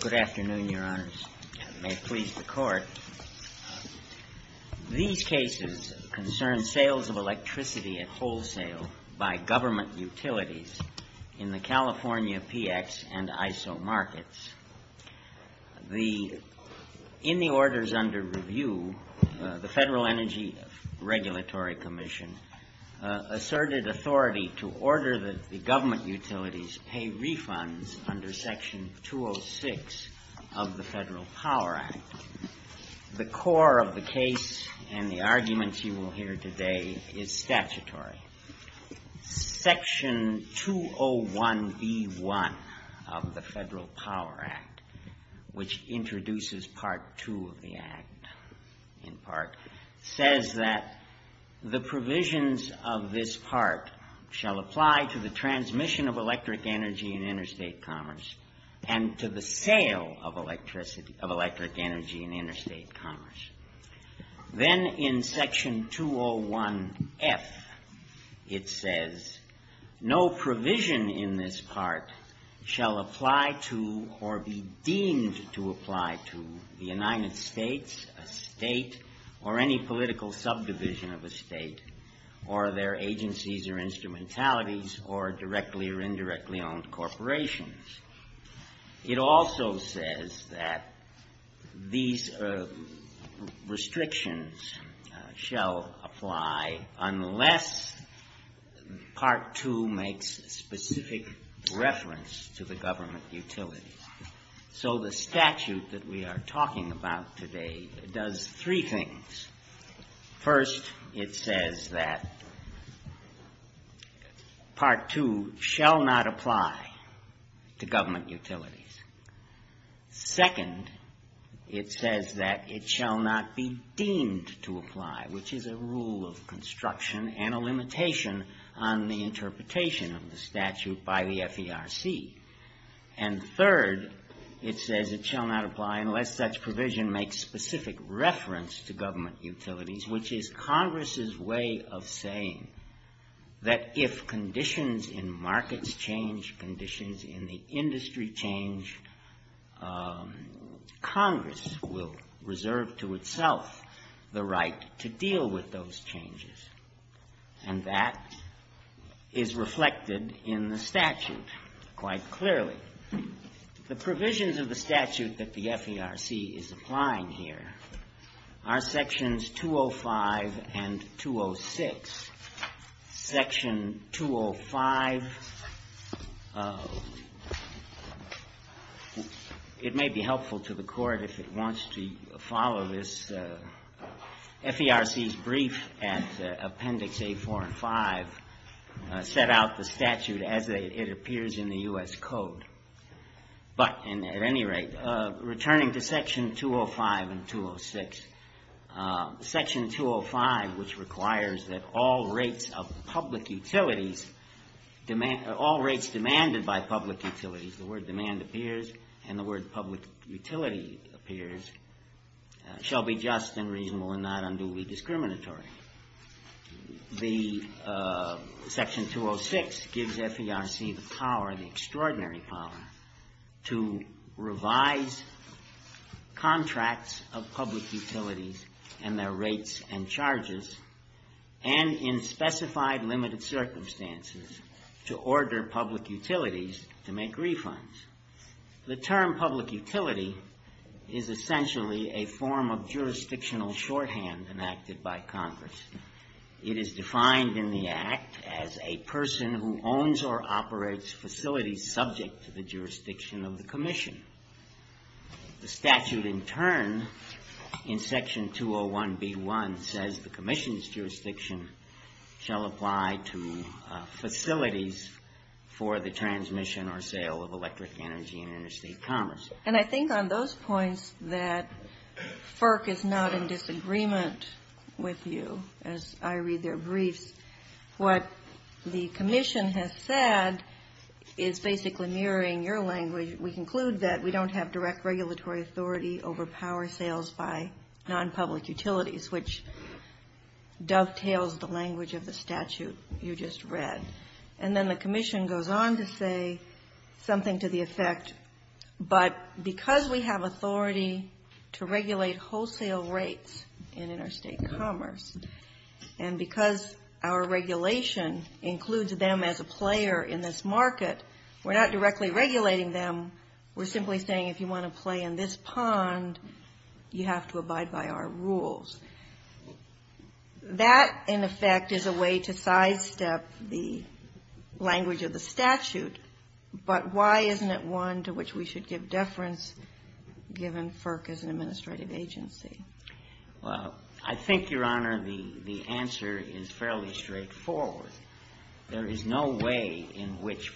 Good afternoon, Your Honors. May it please the Court, these cases concern sales of electricity at wholesale by government utilities in the California PX and ISO markets. In the orders under review, the Federal Energy Regulatory Commission asserted authority to order that the government utilities pay refunds under Section 206 of the Federal Power Act. The core of the case, and the arguments you will hear today, is statutory. Section 201B1 of the Federal Power Act, which introduces Part 2 of the Act, in part, says that the provisions of this Part shall apply to the transmission of electric energy in interstate commerce and to the sale of electric energy in interstate commerce. Then, in Section 201F, it says, no provision in this Part shall apply to, or be deemed to apply to, the United States, a state, or any political subdivision of a state, or their agencies or instrumentalities, or directly or indirectly owned corporations. It also says that these restrictions shall apply unless Part 2 makes specific reference to the government utilities. So the statute that we are talking about today does three things. First, it says that Part 2 shall not apply to government utilities. Second, it says that it shall not be deemed to apply, which is a rule of construction and a limitation on the interpretation of the statute by the government utilities, which is Congress's way of saying that if conditions in markets change, conditions in the industry change, Congress will reserve to itself the right to deal with those changes. And that is reflected in the statute quite clearly. The provisions of the statute that the FERC is applying here are Sections 205 and 206. Section 205, it may be helpful to the Court if it wants to follow this. FERC's brief at Appendix A4 and A5 set out the statute as it appears in the U.S. Code. But at any rate, returning to Section 205 and 206, Section 205, which requires that all rates of public utilities, all rates demanded by public utilities, the word demand appears and the word public utility appears, shall be just and reasonable and not unduly discriminatory. Section 206 gives FERC the power, the extraordinary power, to revise contracts of public utilities and their rates and charges, and in specified limited circumstances, to order public utilities to make refunds. The term public utility is essentially a form of jurisdictional shorthand enacted by Congress. It is defined in the Act as a person who owns or operates facilities subject to the jurisdiction of the Commission. The statute in turn, in Section 201B1, says the Commission's jurisdiction shall apply to facilities for the transmission or sale of electric energy in interstate commerce. And I think on those points that FERC is not in disagreement with you, as I read their brief, what the Commission has said is basically mirroring your language. We conclude that we don't have direct regulatory authority over power sales by non-public utilities, which dovetails the language of the statute you just read. And then the Commission goes on to say something to the effect, but because we have authority to regulate wholesale rates in interstate commerce, and because our regulation includes them as a player in this market, we're not directly regulating them. We're simply saying if you want to play in this pond, you have to abide by our rules. That, in effect, is a way to sidestep the language of the statute. But why isn't it one to which we should give deference, given FERC is an administrative agency? Well, I think, Your Honor, the answer is fairly straightforward. There is no way in which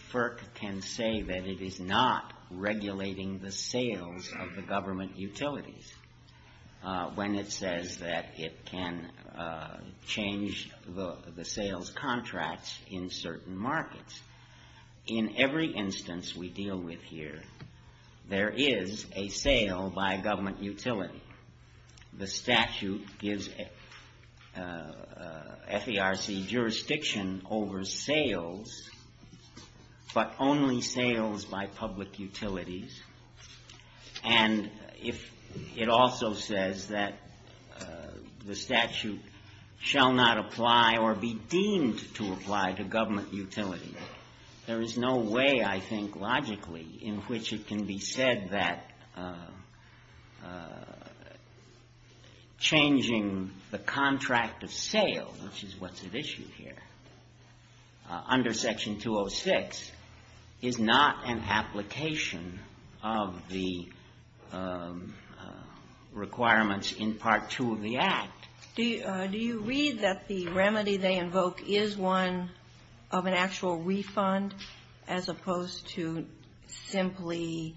regulating the sales of the government utilities, when it says that it can change the sales contracts in certain markets. In every instance we deal with here, there is a sale by government utilities. And if it also says that the statute shall not apply or be deemed to apply to government utilities, there is no way, I think, logically, in which it can be said that changing the contract of sale, which is what's at issue here, under Section 206, is not an application of the requirements in Part 2 of the Act. Do you read that the remedy they invoke is one of an actual refund, as opposed to simply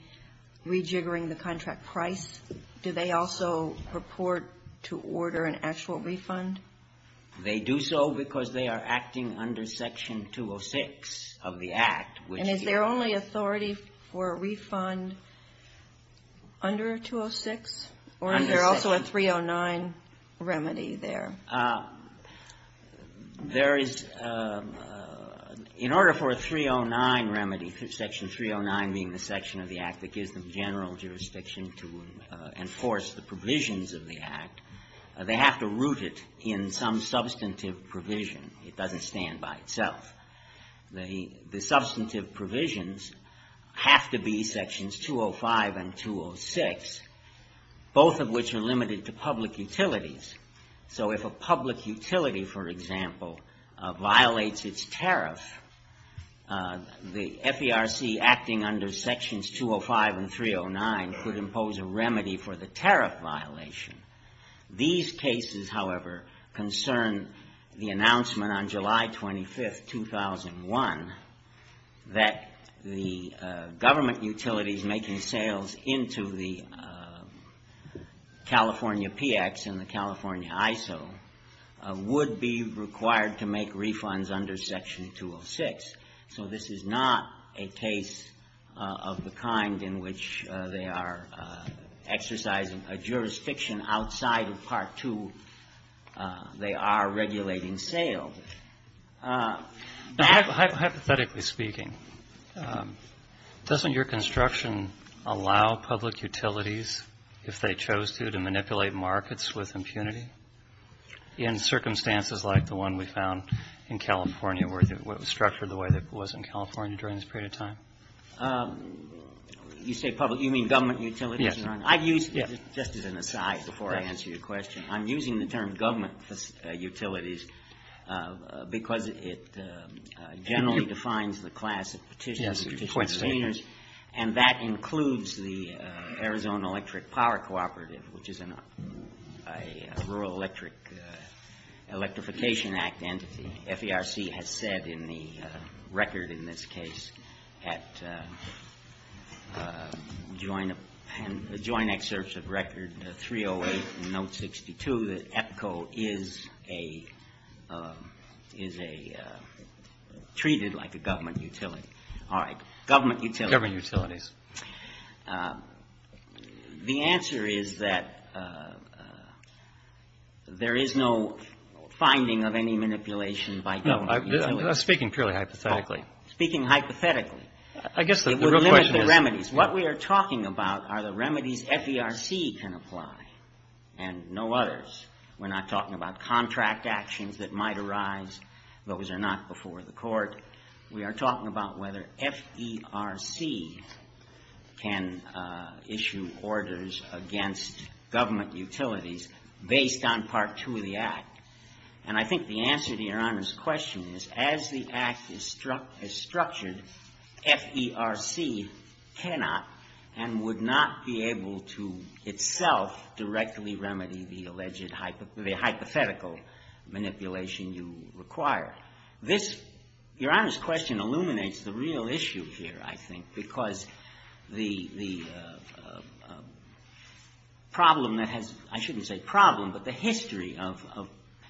rejiggering the contract price? Do they also purport to order an actual refund? They do so because they are acting under Section 206 of the Act, which... And is there only authority for a refund under 206? Or is there also a 309 remedy there? There is... In order for a 309 remedy, Section 309 being the section of the Act that gives them general jurisdiction to enforce the provisions of the Act, they have to root it in some substantive provision. It doesn't stand by itself. The substantive provisions have to be Sections 205 and 309. If a public utility, for example, violates its tariff, the FERC acting under Sections 205 and 309 could impose a remedy for the tariff violation. These cases, however, concern the announcement on July 25, 2001, that the government utilities making sales into the California PX and the California ISO would be required to make refunds under Section 206. So this is not a case of the kind in which they are exercising a jurisdiction outside of Part 2. They are regulating sales. Hypothetically speaking, doesn't your construction allow public utilities, if they chose to, manipulate markets with impunity? In circumstances like the one we found in California, where it was structured the way it was in California during this period of time? You say public... You mean government utilities? Yes. I've used... Just as an aside before I answer your question, I'm using the term government utilities because it generally defines the class of petitions and petitions containers, and that is a Rural Electric Electrification Act entity. FERC has said in the record in this case, at joint excerpts of record 308 and note 62, that EPCO is treated like a government utility. All right. Government utilities. Government utilities. The answer is that there is no finding of any manipulation by government utilities. I'm speaking purely hypothetically. Speaking hypothetically. I guess the real question is... It would limit the remedies. What we are talking about are the remedies FERC can apply and no others. We're not talking about contract actions that might arise. Those are not before the court. We are talking about whether FERC can issue orders against government utilities based on Part 2 of the Act. And I think the answer to your Honor's question is as the Act is structured, FERC cannot and would not be able to itself directly remedy the alleged hypothetical manipulation you require. Your Honor's question illuminates the real issue here, I think, because the problem that has... I shouldn't say problem, but the history of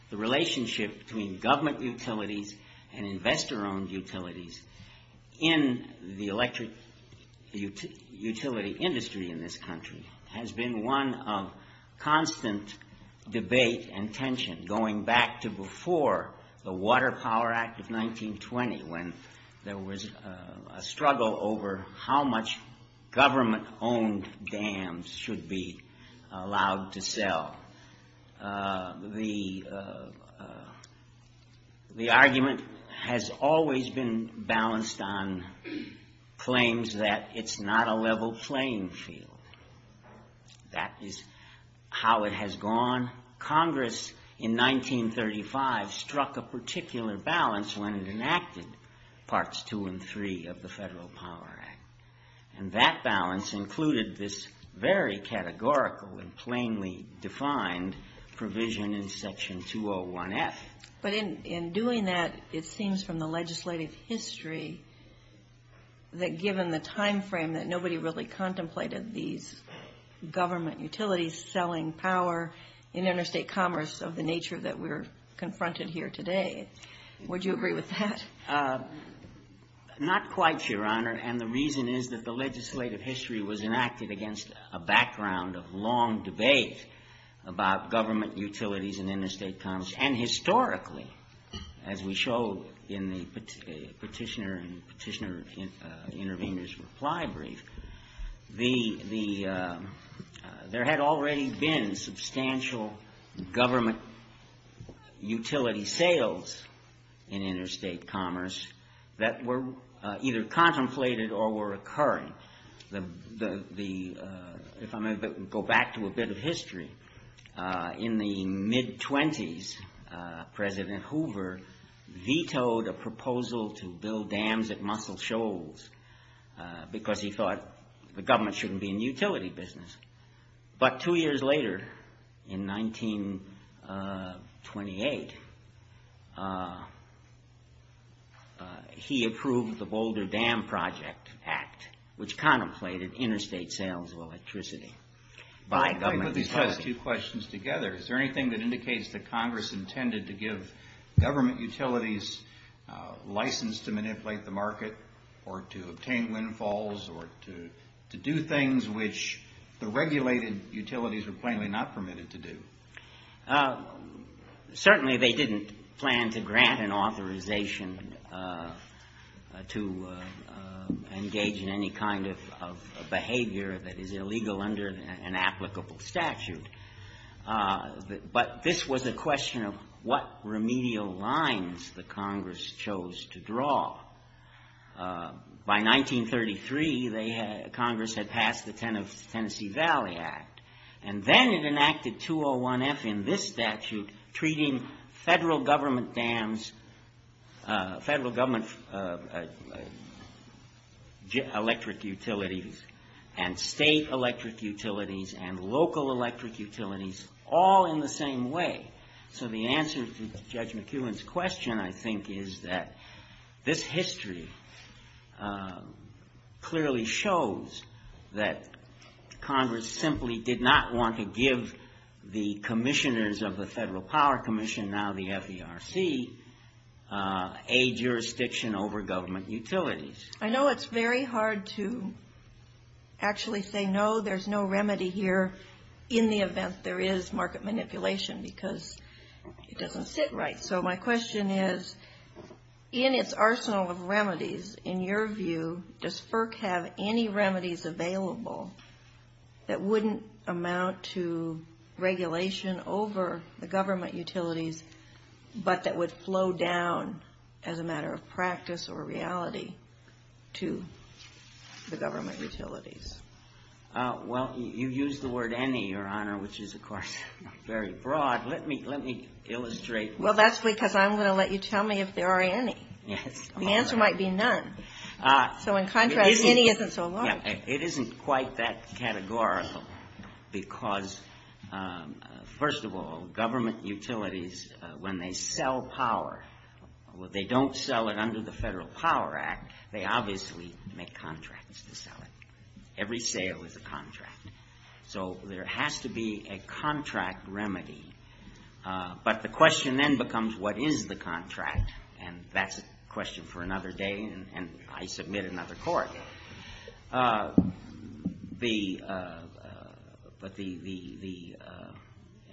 the relationship between government utilities and investor-owned utilities in the electric utility industry in this country has been one of constant debate and tension going back to before the Water Power Act of 1920 when there was a struggle over how much government-owned dams should be allowed to sell. The argument has always been balanced on claims that it's not a level playing field. That is how it has gone. Congress in 1935 struck a particular balance when it enacted Parts 2 and 3 of the Federal Power Act. And that balance included this very categorical and plainly defined provision in Section 201F. But in doing that, it seems from the legislative history that given the time frame that nobody really contemplated these government utilities selling power in interstate commerce of the nature that we're confronted here today, would you agree with that? Not quite, Your Honor. And the reason is that the legislative history was enacted against a background of long debate about government utilities in interstate commerce. And historically, as we show in the petitioner and petitioner intervener's reply brief, there had already been substantial government utility sales in interstate commerce that were either contemplated or were occurring. If I may go back to a bit of history, in the mid-twenties, President Hoover vetoed a proposal to build dams at Muscle Shoals because he thought the government shouldn't be in the utility business. But two years later, in 1928, he approved the Boulder Dam Project Act, which contemplated interstate sales of electricity by government utilities. If I could discuss two questions together, is there anything that indicates that Congress intended to give government utilities license to manipulate the market or to obtain windfalls or to do things which the regulated utilities were plainly not permitted to do? Certainly, they didn't plan to grant an authorization to engage in any kind of behavior that is illegal under an applicable statute. But this was a question of what remedial lines the Congress chose to draw. By 1933, Congress had passed the Tennessee Valley Act, and then it enacted 201F in this statute treating federal government dams, federal government electric utilities, and state electric utilities, and local electric utilities all in the same way. So the answer to Judge McEwen's question, I think, is that this history clearly shows that Congress simply did not want to give the commissioners of the Federal Power Commission, now the FDRC, a jurisdiction over government utilities. I know it's very hard to actually say, no, there's no remedy here in the event there is market manipulation because it doesn't sit right. So my question is, in its arsenal of remedies, in your view, does FERC have any remedies available that wouldn't amount to regulation over the government utilities, but that would flow down as a matter of practice or reality to the government utilities? Well, you used the word any, Your Honor, which is, of course, very broad. Let me illustrate. Well, that's because I'm going to let you tell me if there are any. The answer might be none. So in contrast, any isn't so wrong. It isn't quite that categorical because, first of all, government utilities, when they sell power, they don't sell it under the Federal Power Act. They obviously make contracts to sell it. Every sale is a contract. So there has to be a contract remedy. But the question then becomes, what is the contract? And that's a question for another day, and I submit another court. The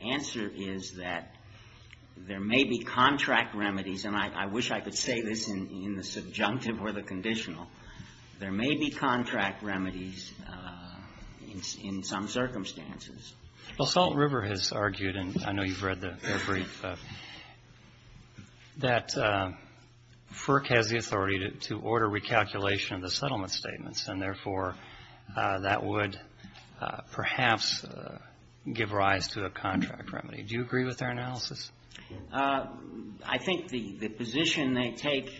answer is that there may be contract remedies, and I wish I could say this in the subjunctive or the conditional. There may be contract remedies in some circumstances. Well, Salt River has argued, and I know you've read their brief, that FERC has the authority to order recalculation of the settlement statements, and therefore that would perhaps give rise to a contract remedy. Do you agree with their analysis? I think the position they take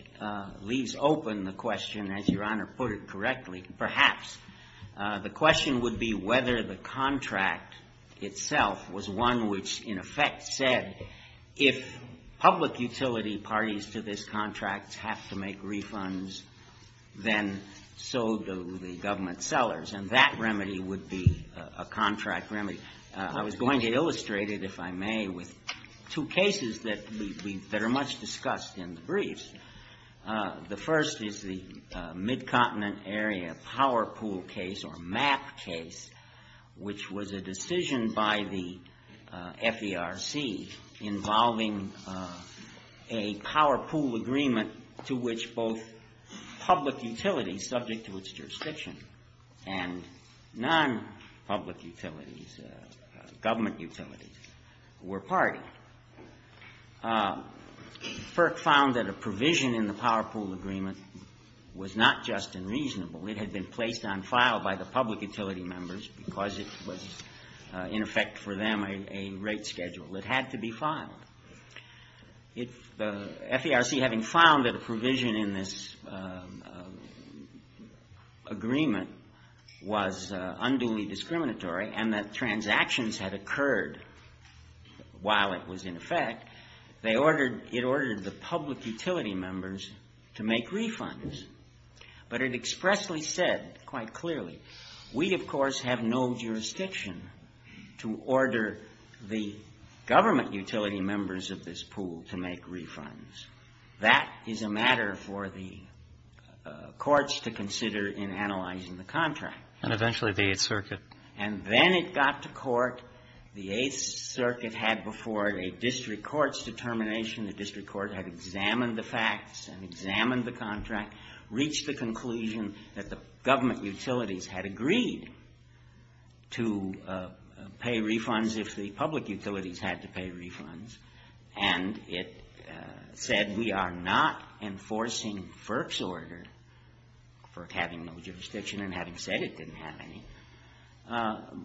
leaves open the question, as Your Honor put it correctly. Perhaps. The question would be whether the contract itself was one which, in effect, said if public utility parties to this contract have to make refunds, then so do the government sellers. And that remedy would be a contract remedy. I was going to illustrate it, if I may, with two cases that are much discussed in the briefs. The first is the Mid-Continent Area Power Pool case or MAP case, which was a decision by the FERC involving a power pool agreement to which both public utilities, subject to its jurisdiction, and non-public utilities, government utilities, were party. FERC found that a provision in the power pool agreement was not just unreasonable. It had been placed on file by the public utility members because it was, in effect for them, a rate schedule. It had to be filed. FERC, having found that a provision in this agreement was unduly discriminatory and that transactions had occurred while it was in effect, it ordered the public utility members to make refunds. But it expressly said, quite clearly, we, of course, have no jurisdiction to order the government utility members of this pool to make refunds. That is a matter for the courts to consider in analyzing the contract. And eventually the Eighth Circuit. And then it got to court. The Eighth Circuit had before it a district court's determination. The district court had examined the facts and examined the contract, reached the conclusion that the government utilities had agreed to pay refunds if the public utilities had to pay refunds. And it said we are not enforcing FERC's order for having no jurisdiction and having said it didn't have any.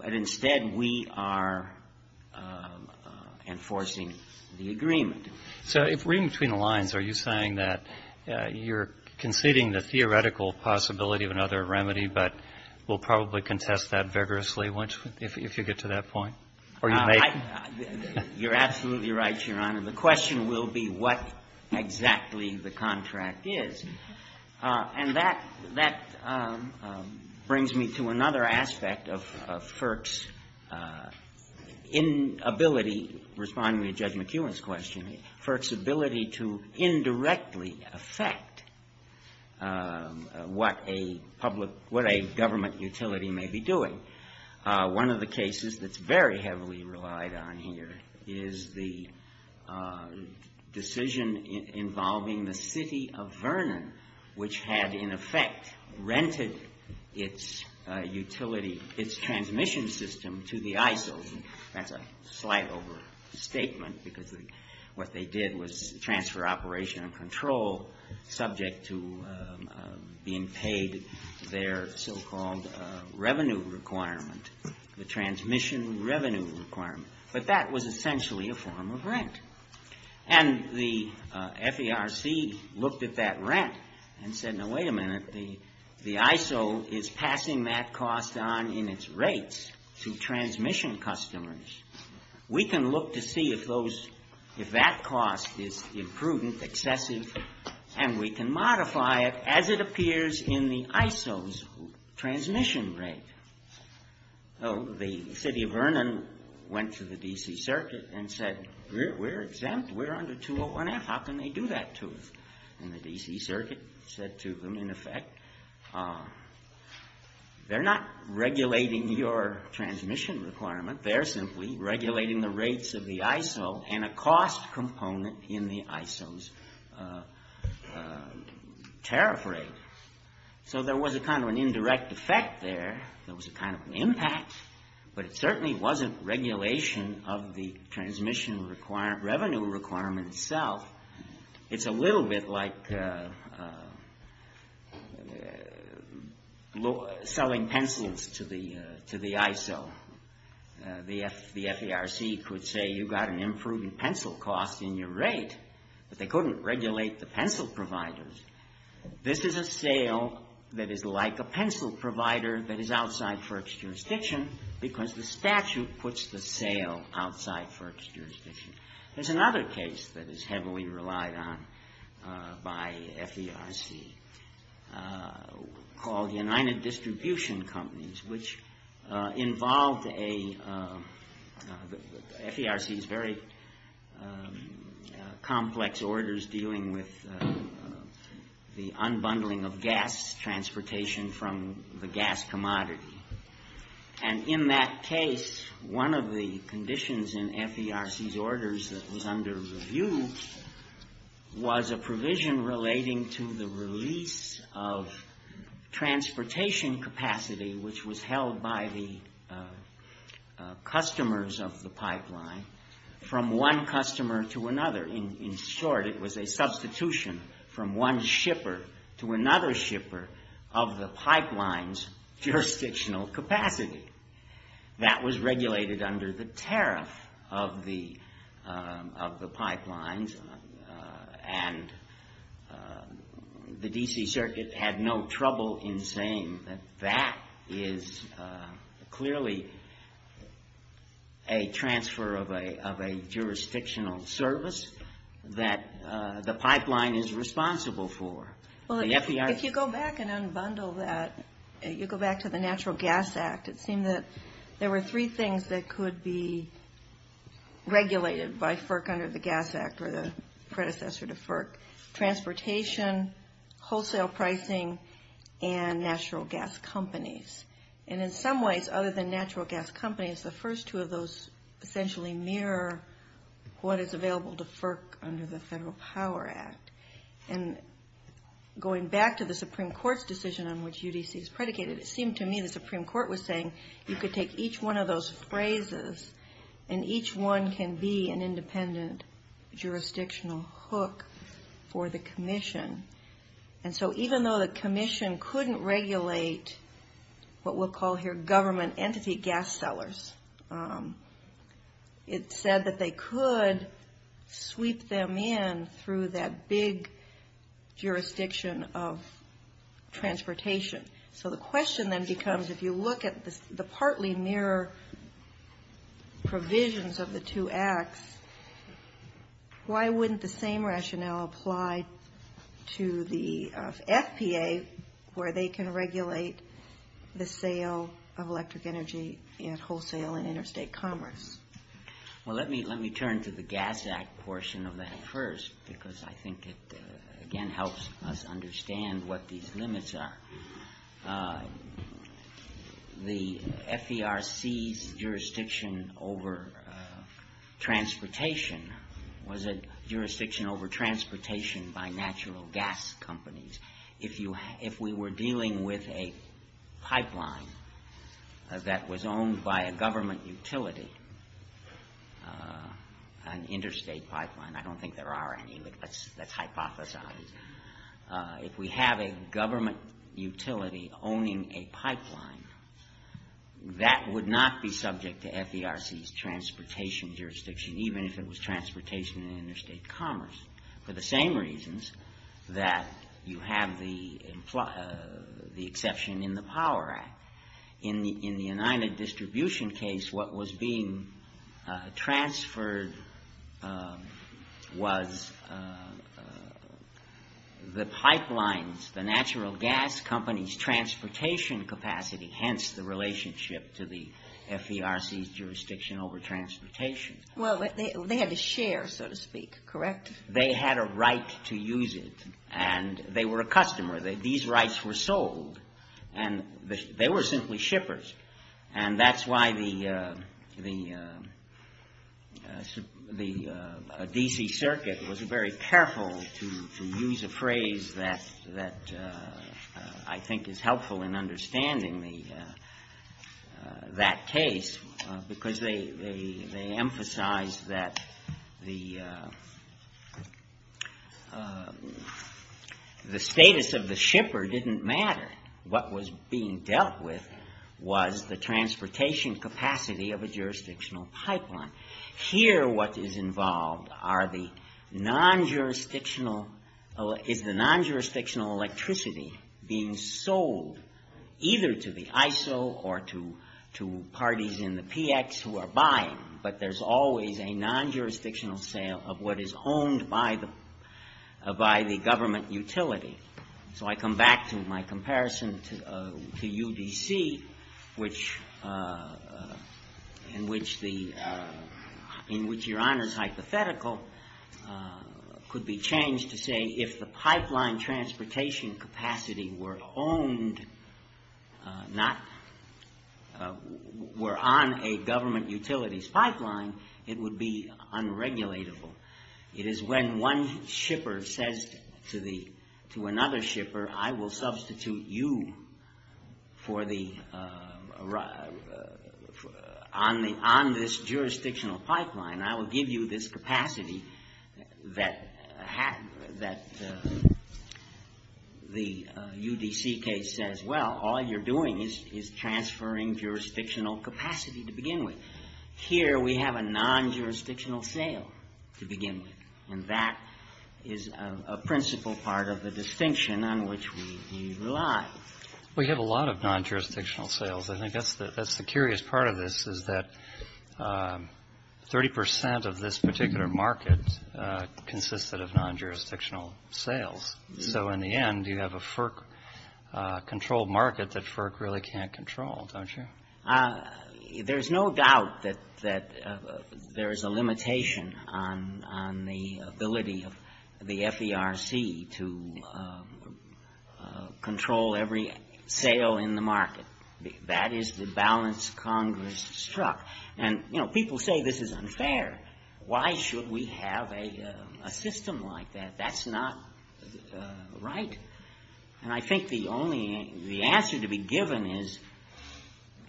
But instead we are enforcing the agreement. So if we're in between the lines, are you saying that you're conceding the theoretical possibility of another remedy but will probably contest that vigorously if you get to that point? You're absolutely right, Your Honor. The question will be what exactly the contract is. And that brings me to another aspect of FERC's inability, responding to Judge McEwen's question, FERC's ability to indirectly affect what a public, what a government utility may be doing. One of the cases that's very heavily relied on here is the decision involving the city of Vernon, which had in effect rented its utility, its transmission system to the ISO. That's a slight overstatement because what they did was transfer operation and control subject to being paid their so-called revenue requirement, the transmission revenue requirement. But that was essentially a form of rent. And the FERC looked at that rent and said, Now, wait a minute. The ISO is passing that cost on in its rates to transmission customers. We can look to see if that cost is imprudent, excessive, and we can modify it as it appears in the ISO's transmission rate. The city of Vernon went to the D.C. Circuit and said, We're exempt. We're under 201F. How can they do that to us? And the D.C. Circuit said to them, in effect, They're not regulating your transmission requirement. They're simply regulating the rates of the ISO and a cost component in the ISO's tariff rate. So there was a kind of an indirect effect there. There was a kind of an impact, but it certainly wasn't regulation of the transmission revenue requirement itself. It's a little bit like selling pencils to the ISO. The FERC could say, You've got an imprudent pencil cost in your rate. But they couldn't regulate the pencil providers. This is a sale that is like a pencil provider that is outside FERC's jurisdiction because the statute puts the sale outside FERC's jurisdiction. There's another case that is heavily relied on by FERC called United Distribution Companies, which involved FERC's very complex orders dealing with the unbundling of gas transportation from the gas commodity. And in that case, one of the conditions in FERC's orders that was under review was a provision relating to the release of transportation capacity, which was held by the customers of the pipeline, from one customer to another. In short, it was a substitution from one shipper to another shipper of the pipeline's jurisdictional capacity. That was regulated under the tariff of the pipelines, and the D.C. Circuit had no trouble in saying that that is clearly a transfer of a jurisdictional service that the pipeline is responsible for. Well, if you go back and unbundle that, you go back to the Natural Gas Act, it seemed that there were three things that could be regulated by FERC under the Gas Act or the predecessor to FERC. Transportation, wholesale pricing, and natural gas companies. And in some ways, other than natural gas companies, the first two of those essentially mirror what is available to FERC under the Federal Power Act. And going back to the Supreme Court's decision on which UDC is predicated, it seemed to me that the Supreme Court was saying, you could take each one of those phrases and each one can be an independent jurisdictional hook for the commission. And so even though the commission couldn't regulate what we'll call here government entity gas sellers, it said that they could sweep them in through that big jurisdiction of transportation. So the question then becomes, if you look at the partly mirror provisions of the two acts, why wouldn't the same rationale apply to the FPA where they can regulate the sale of electric energy and wholesale and interstate commerce? Well, let me turn to the Gas Act portion of that first because I think it again helps us understand what these limits are. The FERC's jurisdiction over transportation was a jurisdiction over transportation by natural gas companies. If we were dealing with a pipeline that was owned by a government utility, an interstate pipeline, I don't think there are any, but that's hypothesized. If we have a government utility owning a pipeline, that would not be subject to FERC's transportation jurisdiction, even if it was transportation and interstate commerce, for the same reasons that you have the exception in the Power Act. In the United Distribution case, what was being transferred was the pipelines, the natural gas companies' transportation capacity, hence the relationship to the FERC's jurisdiction over transportation. They had to share, so to speak, correct? They had a right to use it and they were a customer. These rights were sold and they were simply shippers and that's why the D.C. Circuit was very careful to use a phrase that I think is helpful in understanding that case because they emphasized that the status of the shipper didn't matter. What was being dealt with was the transportation capacity of a jurisdictional pipeline. Here, what is involved is the non-jurisdictional electricity being sold either to the ISO or to parties in the PX who are buying, but there's always a non-jurisdictional sale of what is owned by the government utility. So I come back to my comparison to UDC in which your Honor's hypothetical could be changed to say if the pipeline transportation capacity were on a government utility's pipeline, it would be unregulatable. It is when one shipper says to another shipper, I will substitute you on this jurisdictional pipeline. I will give you this capacity that the UDC case says, well, all you're doing is transferring jurisdictional capacity to begin with. Here, we have a non-jurisdictional sale to begin with and that is a principal part of the distinction on which we rely. We have a lot of non-jurisdictional sales. I think that's the curious part of this is that 30% of this particular market consisted of non-jurisdictional sales. So in the end, you have a FERC-controlled market that FERC really can't control, don't you? There's no doubt that there's a limitation on the ability of the FERC to control every sale in the market. That is the balance Congress struck. People say this is unfair. Why should we have a system like that? That's not right. I think the answer to be given is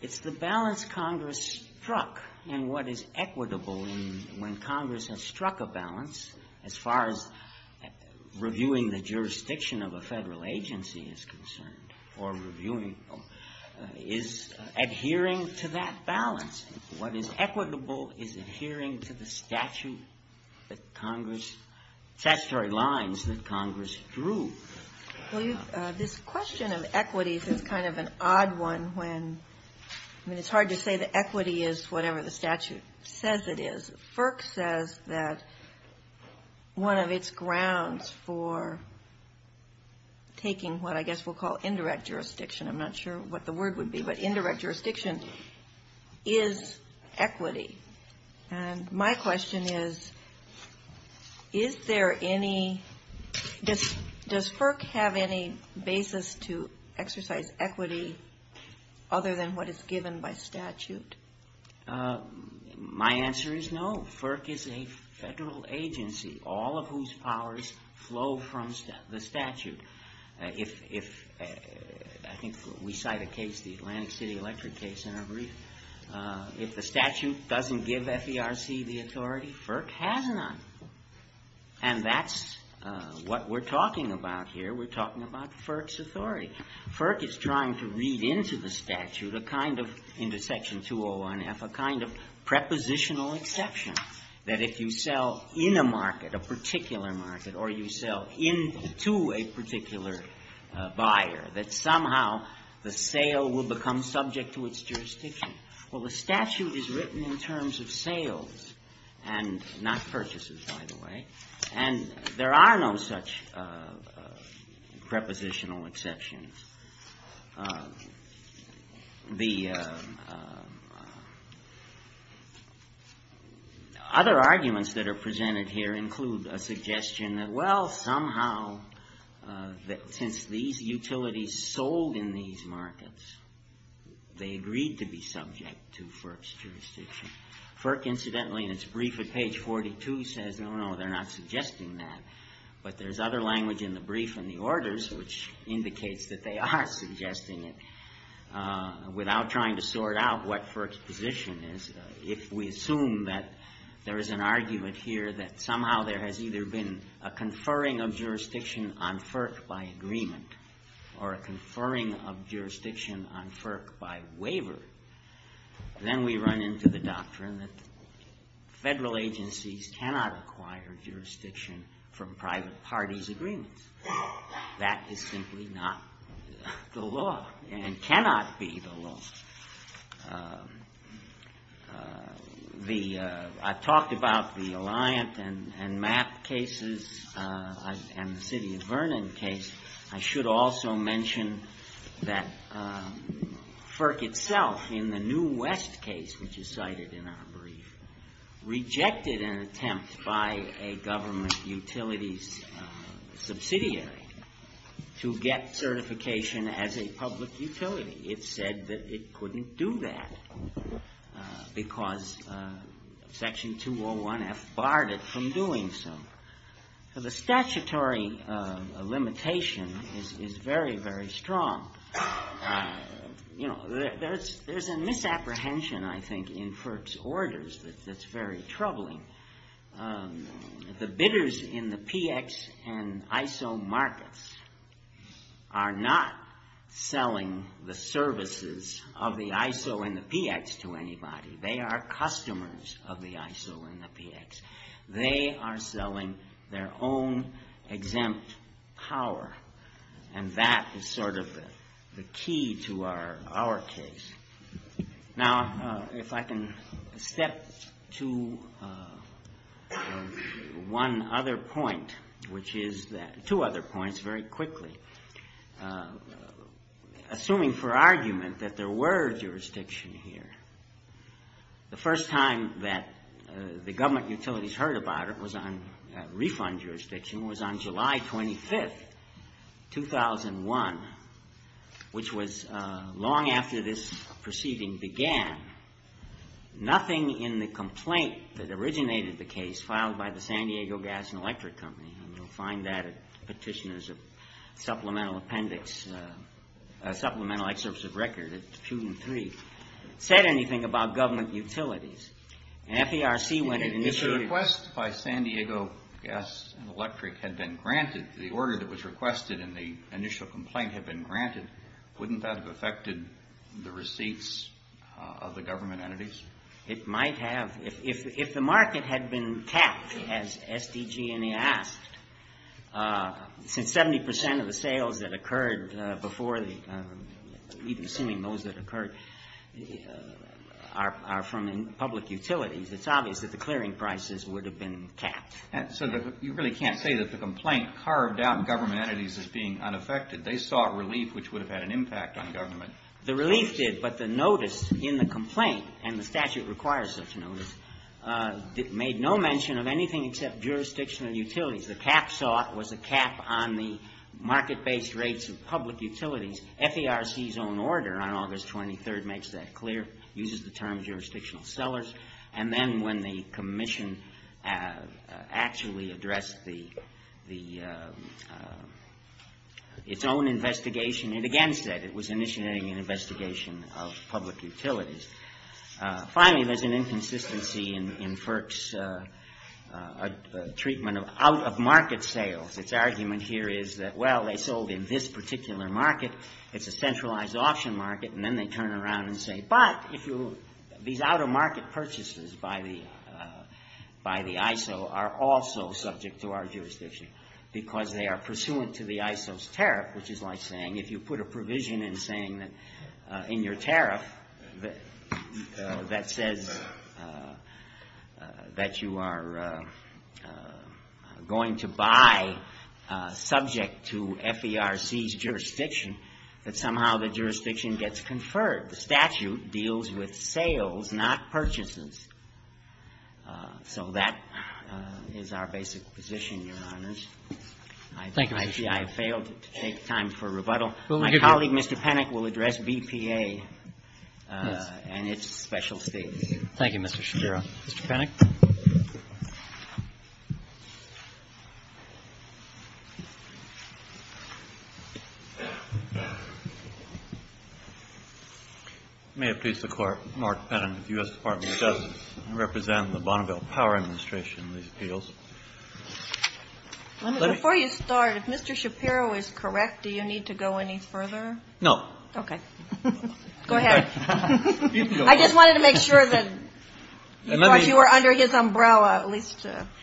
it's the balance Congress struck and what is equitable when Congress has struck a balance as far as reviewing the jurisdiction of a federal agency is concerned or reviewing is adhering to that balance. What is equitable is adhering to the statute that Congress, statutory lines that Congress drew. This question of equity is kind of an odd one when it's hard to say that equity is whatever the statute says it is. FERC says that one of its grounds for taking what I guess we'll call indirect jurisdiction, I'm not sure what the word would be, but indirect jurisdiction is equity. And my question is, is there any, does FERC have any basis to exercise equity other than what is given by statute? My answer is no. FERC is a federal agency, all of whose powers flow from the statute. If, I think we cite a case, the Atlantic City Electric case in our brief, if the statute doesn't give FERC the authority, FERC has none. And that's what we're talking about here. We're talking about FERC's authority. FERC is trying to read into the statute a kind of, into Section 201-F, a kind of prepositional exception that if you sell in a market, a particular market, or you sell into a particular buyer, that somehow the sale will become subject to its jurisdiction. Well, the statute is written in terms of sales and not purchases, by the way. And there are no such prepositional exceptions. The other arguments that are presented here include a suggestion that, well, somehow, since these utilities sold in these markets, they agreed to be subject to FERC's jurisdiction. FERC, incidentally, in its brief at page 42, says, no, no, they're not suggesting that. But there's other language in the brief and the orders which indicates that they're not suggesting that. But they are suggesting it. Without trying to sort out what FERC's position is, if we assume that there is an argument here that somehow there has either been a conferring of jurisdiction on FERC by agreement or a conferring of jurisdiction on FERC by waiver, then we run into the doctrine that federal agencies cannot acquire jurisdiction from private parties' agreements. That is simply not the law and cannot be the law. I talked about the Alliant and MAP cases and the City of Vernon case. I should also mention that FERC itself, in the New West case, which is cited in our brief, rejected an attempt by a government utilities subsidiary to get certification as a public utility. It said that it couldn't do that because Section 201F barred it from doing so. The statutory limitation is very, very strong. There's a misapprehension, I think, in FERC's orders that's very troubling. The bidders in the PX and ISO markets are not selling the services of the ISO and the PX to anybody. They are customers of the ISO and the PX. They are selling their own exempt power and that is sort of the key to our case. Now, if I can step to one other point, which is that, two other points very quickly. Assuming for argument that there were jurisdiction here, the first time that the government utilities heard about it was on, refund jurisdiction, was on July 25th, 2001, which was long after this proceeding began. Nothing in the complaint that originated the case filed by the San Diego Gas and Electric Company, and you'll find that at Petitioners of Supplemental Appendix, Supplemental Excerpts of Record, it's two and three, said anything about government utilities. And FERC went and issued... If the request by San Diego Gas and Electric had been granted to the order that was requested and the initial complaint had been granted, wouldn't that have affected the receipts of the government entities? It might have. If the market had been tapped, as SDG&E asked, since 70% of the sales that occurred before the... even assuming those that occurred are from public utilities, it's obvious that the clearing prices would have been tapped. So you really can't say that the complaint carved out government entities as being unaffected. They sought relief, which would have had an impact on government. The relief did, but the notice in the complaint, and the statute requires such a notice, made no mention of anything except jurisdictional utilities. The cap sought was a cap on the market-based rates of public utilities. FERC's own order on August 23rd makes that clear, uses the term jurisdictional sellers. And then when the commission actually addressed its own investigation, it again said it was initiating an investigation of public utilities. Finally, there's an inconsistency in FERC's treatment of out-of-market sales. Its argument here is that, well, they sold in this particular market, it's a centralized auction market, and then they turn around and say, but these out-of-market purchases by the ISO are also subject to our jurisdiction because they are pursuant to the ISO's tariff, which is like saying if you put a provision in your tariff that says that you are going to buy subject to FERC's jurisdiction, but somehow the jurisdiction gets conferred. The statute deals with sales, not purchases. So that is our basic position, Your Honors. I failed to take time for rebuttal. My colleague, Mr. Pennock, will address BPA and its specialty. Mr. Pennock? May it please the Court, Mark Pennock, U.S. Department of Justice. I represent the Bonneville Power Administration in these appeals. Before you start, if Mr. Shapiro is correct, do you need to go any further? No. Okay. Go ahead. I just wanted to make sure that you were under his umbrella.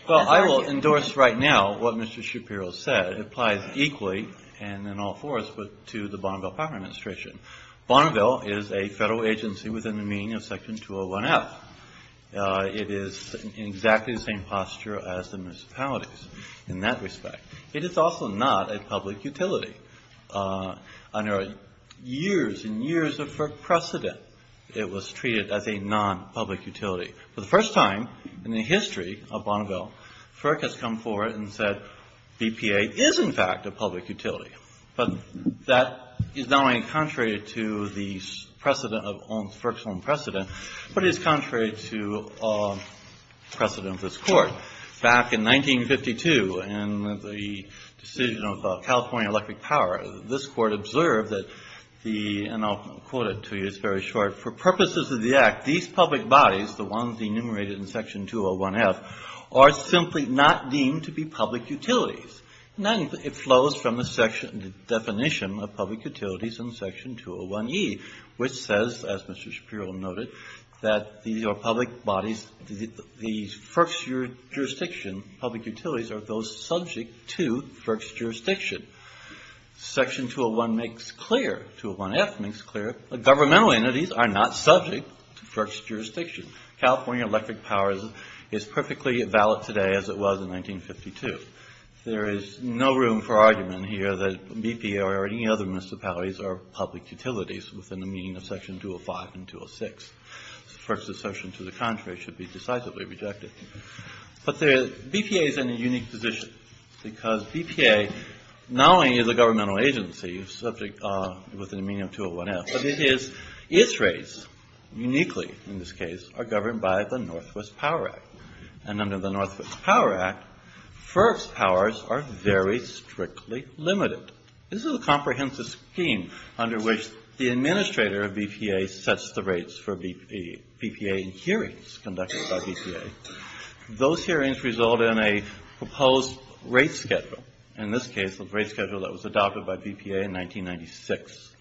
Well, I will endorse right now what Mr. Shapiro said. It applies equally, and in all fairness, but to the Bonneville Power Administration. Bonneville is a federal agency within the meaning of Section 201-F. It is in exactly the same posture as the municipalities in that respect. It is also not a public utility. Under years and years of FERC precedent, it was treated as a non-public utility. For the first time in the history of Bonneville, FERC has come forward and said BPA is, in fact, a public utility. But that is not only contrary to the precedent, of FERC's own precedent, but it is contrary to precedent of this Court. Back in 1952, in the decision of California Electric Power, this Court observed that the, and I'll quote it to you, it's very short, for purposes of the Act, these public bodies, the ones enumerated in Section 201-F, are simply not deemed to be public utilities. Then it flows from the definition of public utilities in Section 201-E, which says, as Mr. Shapiro noted, that the public bodies, the FERC's jurisdiction, public utilities are those subject to FERC's jurisdiction. Section 201-F makes clear that governmental entities are not subject to FERC's jurisdiction. California Electric Power is perfectly valid today as it was in 1952. There is no room for argument here that BPA or any other municipalities are public utilities within the meaning of Section 205 and 206. FERC's assertion to the contrary should be decisively rejected. But BPA is in a unique position because BPA not only is a governmental agency subject within the meaning of 201-F, but it is, its rates, uniquely in this case, are governed by the Northwest Power Act. And under the Northwest Power Act, FERC's powers are very strictly limited. This is a comprehensive scheme under which the administrator of BPA sets the rates for BPA hearings conducted by BPA. Those hearings result in a proposed rate schedule, in this case, a rate schedule that was adopted by BPA in 1996.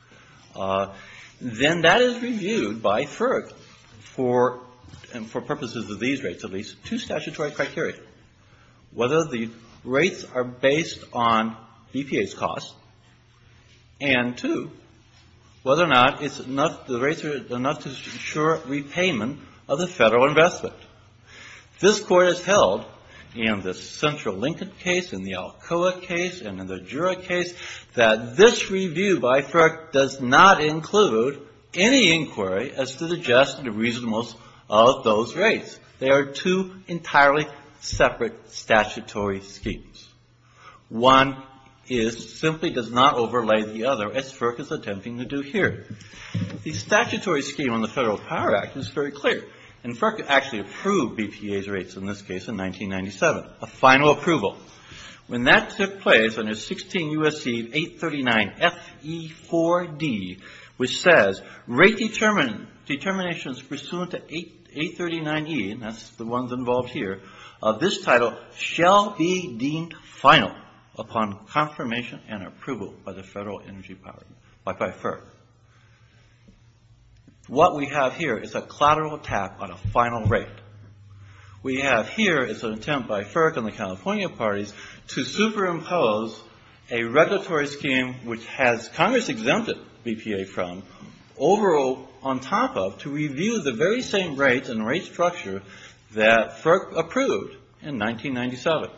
Then that is reviewed by FERC for purposes of these rates, at least, to statutory criteria. One, whether the rates are based on BPA's costs. And two, whether or not the rates are enough to ensure repayment of the federal investment. This Court has held, in the Central Lincoln case, in the Alcoa case, and in the Jura case, that this review by FERC does not include any inquiry as to the just and reasonableness of those rates. They are two entirely separate statutory schemes. One simply does not overlay the other, as FERC is attempting to do here. The statutory scheme on the Federal Power Act is very clear. And FERC actually approved BPA's rates, in this case, in 1997. A final approval. When that step plays, under 16 U.S.C. 839 F.E.4.D., which says, Rate determinations pursuant to 839 E., that's the ones involved here, of this title shall be deemed final upon confirmation and approval by the Federal Energy Party, by FERC. What we have here is a collateral tap on a final rate. We have here is an attempt by FERC and the California parties to superimpose a regulatory scheme which has Congress exempted BPA from, overall, on top of, to review the very same rates and rate structure that FERC approved in 1997.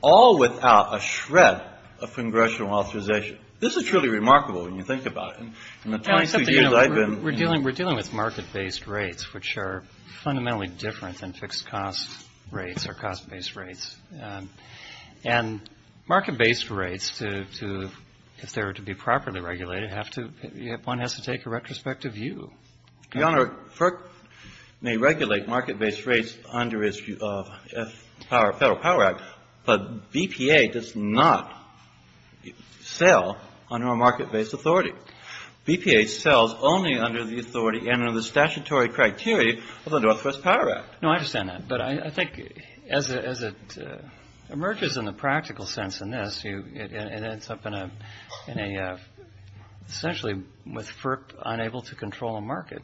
All without a shred of congressional authorization. This is truly remarkable when you think about it. In the 23 years I've been... We're dealing with market-based rates, which are fundamentally different than fixed-cost rates or cost-based rates. And market-based rates, if they're to be properly regulated, one has to take a retrospective view. Your Honor, FERC may regulate market-based rates under its Federal Power Act, but BPA does not sell under a market-based authority. BPA sells only under the authority and under the statutory criteria of the Northwest Power Act. No, I understand that, but I think as it emerges in the practical sense in this, it ends up in a essentially with FERC unable to control a market.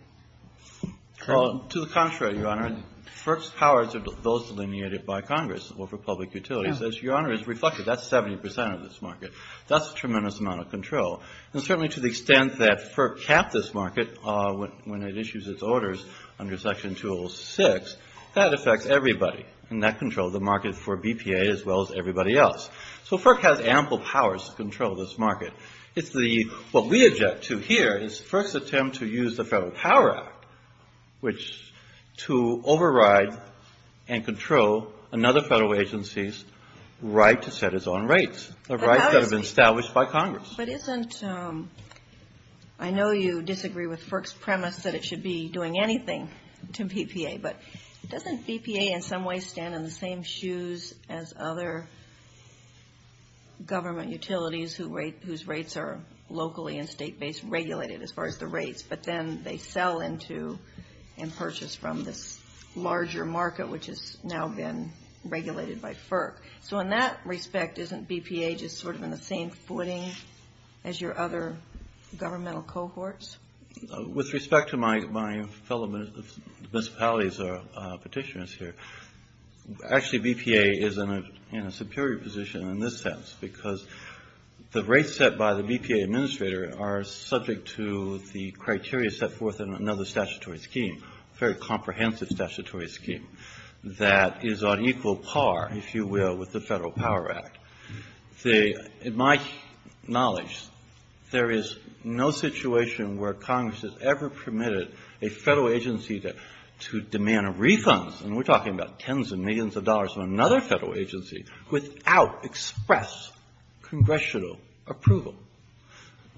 Well, to the contrary, Your Honor. FERC's powers are those delineated by Congress over public utilities. As Your Honor has reflected, that's 70% of this market. That's a tremendous amount of control. And certainly to the extent that FERC capped this market when it issues its orders under Section 206, that affects everybody in that control of the market for BPA as well as everybody else. So FERC has ample powers to control this market. What we object to here is FERC's attempt to use the Federal Power Act which to override and control another federal agency's right to set its own rates, a right that had been established by Congress. I know you disagree with FERC's premise that it should be doing anything to BPA, but doesn't BPA in some ways stand in the same shoes as other government utilities whose rates are locally and state-based regulated as far as the rates, but then they sell into and purchase from the larger market which has now been regulated by FERC. So in that respect, isn't BPA just sort of on the same footing as your other governmental cohorts? With respect to my fellow municipalities or petitioners here, actually BPA is in a superior position in this sense because the rates set by the BPA administrator are subject to the criteria set forth in another statutory scheme, a very comprehensive statutory scheme that is on equal par, if you will, with the Federal Power Act. In my knowledge, there is no situation where Congress has ever permitted a federal agency to demand a refund, and we're talking about tens of millions of dollars from another federal agency, without express congressional approval.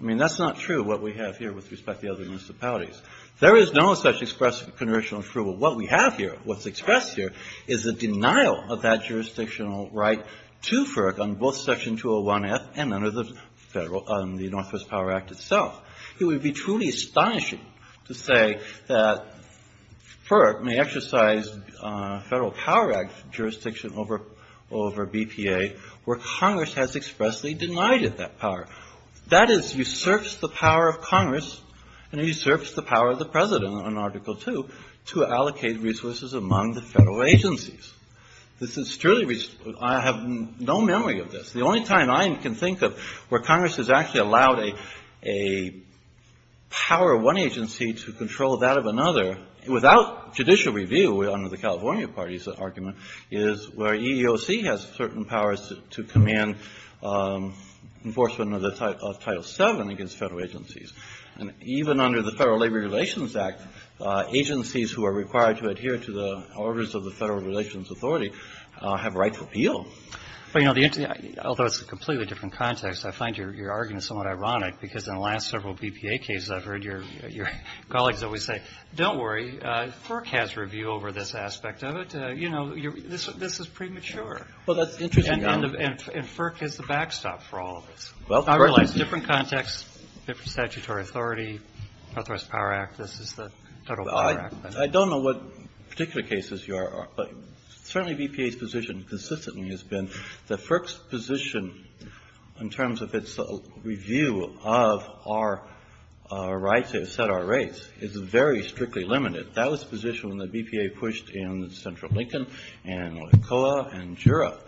I mean, that's not true what we have here with respect to the other municipalities. There is no such express congressional approval. What we have here, what's expressed here is a denial of that jurisdictional right to FERC on both Section 201F and under the Northwest Power Act itself. It would be truly astonishing to say that FERC may exercise Federal Power Act jurisdiction over BPA where Congress has expressly denied it that power. That is, usurps the power of Congress and usurps the power of the President in Article 2 to allocate resources among the federal agencies. This is truly, I have no memory of this. The only time I can think of where Congress has actually allowed a power of one agency to control that of another, without judicial review, under the California Party's argument, is where EEOC has certain powers to command enforcement of Title 7 against federal agencies. Even under the Federal Labor Relations Act, agencies who are required to adhere to the orders of the Federal Relations Authority have a right to appeal. Although it's a completely different context, I find your argument somewhat ironic because in the last several BPA cases I've heard your colleagues always say, don't worry, FERC has review over this aspect of it. You know, this is premature. And FERC is the backstop for all of this. Different context, different statutory authority, not just the Power Act, this is the Federal Power Act. I don't know what particular cases you are, but certainly BPA's position consistently has been that FERC's position in terms of its review of our right to set our rates is very strictly limited. That was the position that BPA pushed in Central Lincoln and Olicoa and Jura.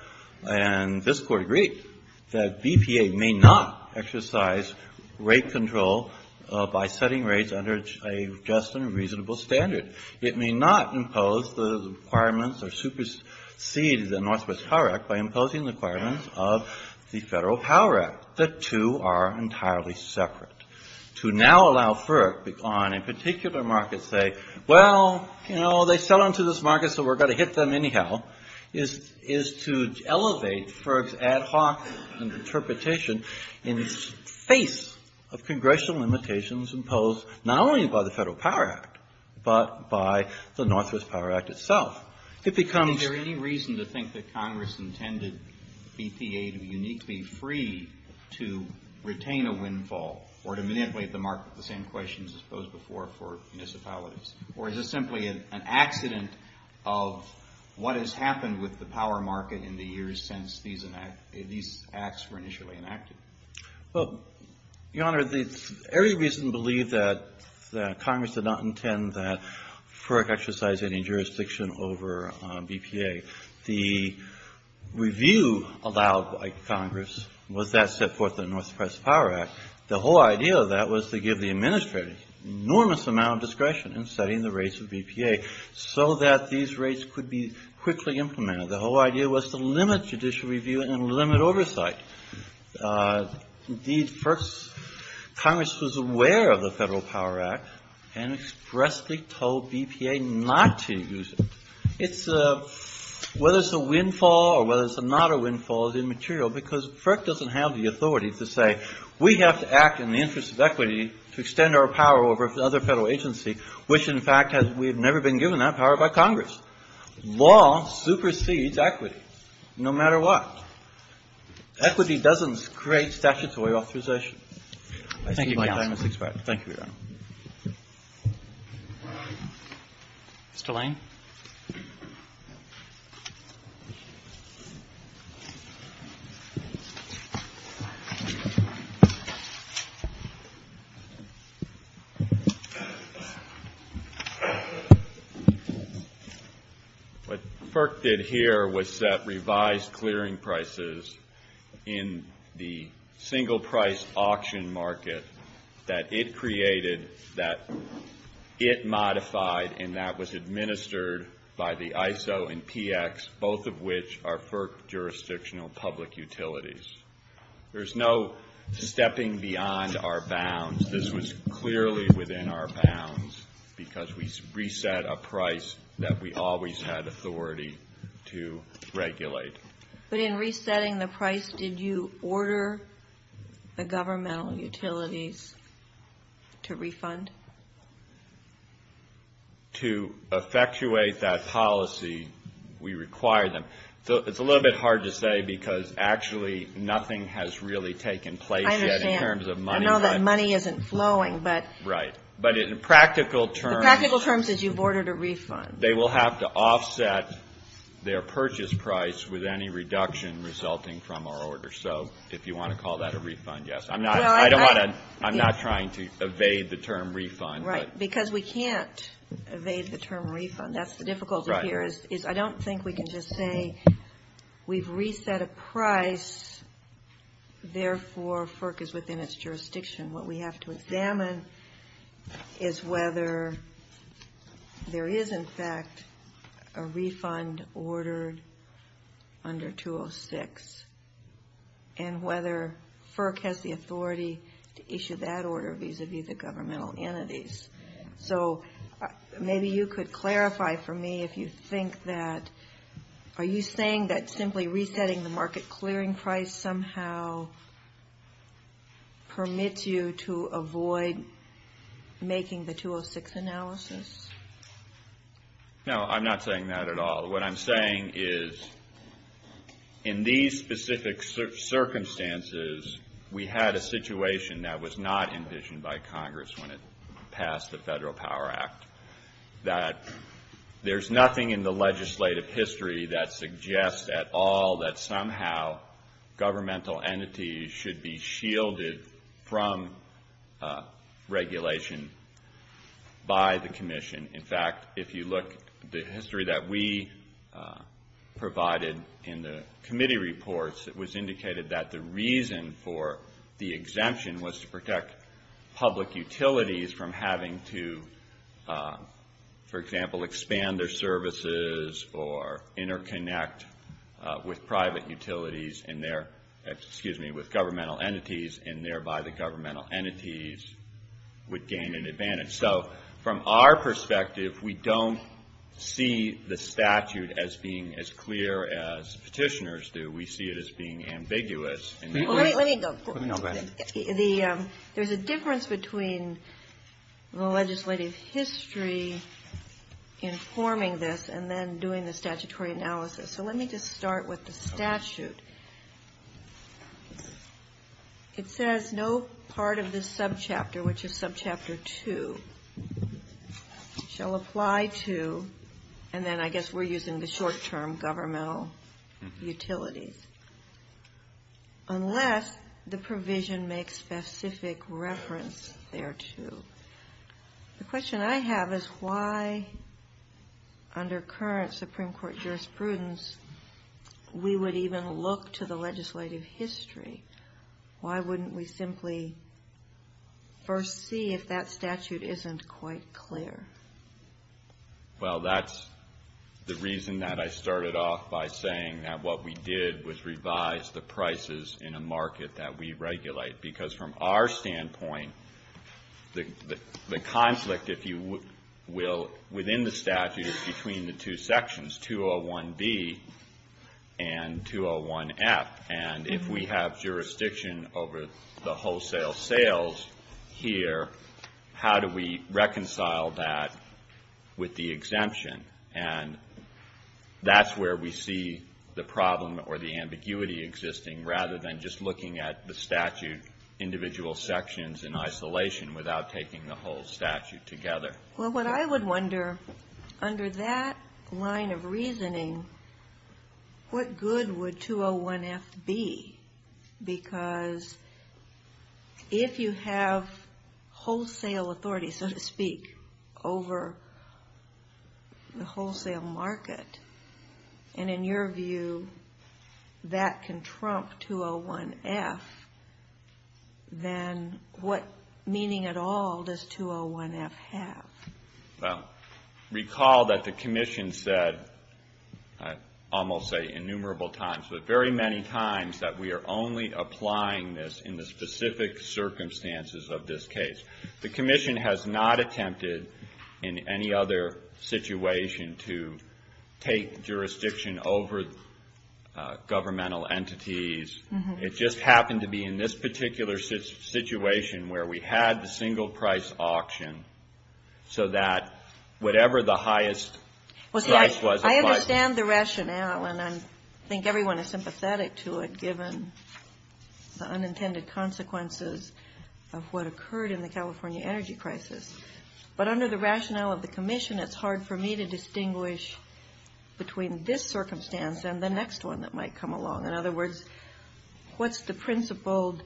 And this Court agreed that BPA may not exercise rate control by setting rates under a just and reasonable standard. It may not impose the requirements or supersede the Northwest Power Act by imposing the requirements of the Federal Power Act. The two are entirely separate. To now allow FERC on a particular market to say, well, you know, they sell into this market so we're going to hit them anyhow, is to elevate FERC's ad hoc interpretation in the face of congressional limitations imposed not only by the Federal Power Act, but by the Northwest Power Act itself. It becomes... Is there any reason to think that Congress intended BPA to be uniquely free to retain a windfall or to manipulate the market? The same questions posed before for municipalities. Or is this simply an accident of what has happened with the power market in the years since these acts were initially enacted? Well, Your Honor, there's every reason to believe that Congress did not intend that FERC exercise any jurisdiction over BPA. The review allowed by Congress was that set forth in the Northwest Power Act. The whole idea of that was to give the administrators enormous amount of discretion in setting the rates of BPA so that these rates could be quickly implemented. The whole idea was to limit judicial review and limit oversight. Indeed, FERC's... Congress was aware of the Federal Power Act and expressly told BPA not to use it. It's a... Whether it's a windfall or whether it's not a windfall is immaterial because FERC doesn't have the authority to say, we have to act in the interest of equity to extend our power over other federal agencies, which, in fact, we have never been given that power by Congress. Law supersedes equity, no matter what. Equity doesn't create statutory authorization. Thank you, Your Honor. Thank you, Your Honor. Mr. Lang? What FERC did here was set revised clearing prices in the single-price auction market that it created, that it modified, and that was administered by the ISO and PX, both of which are FERC jurisdictional public utilities. There's no stepping beyond our bounds. There's no stepping beyond This was clearly within our bounds because we reset a price that we always had authority to regulate. But in resetting the price, did you order the governmental utilities to refund? To effectuate that policy, we require them. It's a little bit hard to say because, actually, nothing has really taken place yet in terms of money. I know that money isn't flowing. Right. But in practical terms, you've ordered a refund. They will have to offset their purchase price with any reduction resulting from our order. So, if you want to call that a refund, yes. I'm not trying to evade the term refund. Right, because we can't evade the term refund. That's the difficulty here. I don't think we can just say we've reset a price, therefore, FERC is within its jurisdiction. What we have to examine is whether there is, in fact, a refund ordered under 206 and whether FERC has the authority to issue that order vis-à-vis the governmental entities. So, maybe you could clarify for me if you think that are you saying that simply resetting the market clearing price somehow permits you to avoid making the 206 analysis? No, I'm not saying that at all. What I'm saying is in these specific circumstances, we had a situation that was not envisioned by Congress when it passed the Federal Power Act that there's nothing in the legislative history that suggests at all that somehow governmental entities should be shielded from regulation by the Commission. In fact, if you look at the history that we provided in the committee reports, it was indicated that the reason for the exemption was to protect public utilities from having to, for example, expand their services or interconnect with private utilities and their, excuse me, with governmental entities and thereby the governmental entities would gain an advantage. So, from our perspective, we don't see the statute as being as clear as petitioners do. We see it as being ambiguous. Let me go. No, go ahead. There's a difference between the legislative history informing this and then doing the statutory analysis. So, let me just start with the statute. It says, no part of this subchapter, which is subchapter two, shall apply to, and then I guess we're using the short-term governmental utilities, unless the provision makes specific reference thereto. The question I have is, why under current Supreme Court jurisprudence, we would even look to the legislative history? Why wouldn't we simply first see if that statute isn't quite clear? Well, that's the reason that I started off by saying that what we did was revise the prices in a market that we regulate, because from our standpoint, the conflict, if you will, within the statute is between the two sections, 201B and 201F. And if we have jurisdiction over the wholesale sales here, how do we reconcile that with the exemption? And that's where we see the problem or the ambiguity existing, rather than just looking at the statute, individual sections in isolation without taking the whole statute together. Well, what I would wonder, under that line of reasoning, what good would 201F be? Because if you have wholesale authority, so to speak, over the wholesale market, and in your view, that can trump 201F, then what meaning at all does 201F have? Well, recall that the Commission said almost innumerable times, but very many times, that we are only applying this in the specific circumstances of this case. The Commission has not attempted in any other situation to take jurisdiction over governmental entities. It just happened to be in this particular situation where we had the single price auction so that whatever the highest price was... I understand the rationale, and I think everyone is sympathetic to it given the unintended consequences of what occurred in the California energy crisis. But under the rationale of the Commission, it's hard for me to distinguish between this circumstance and the next one that might come along. In other words, what's the principled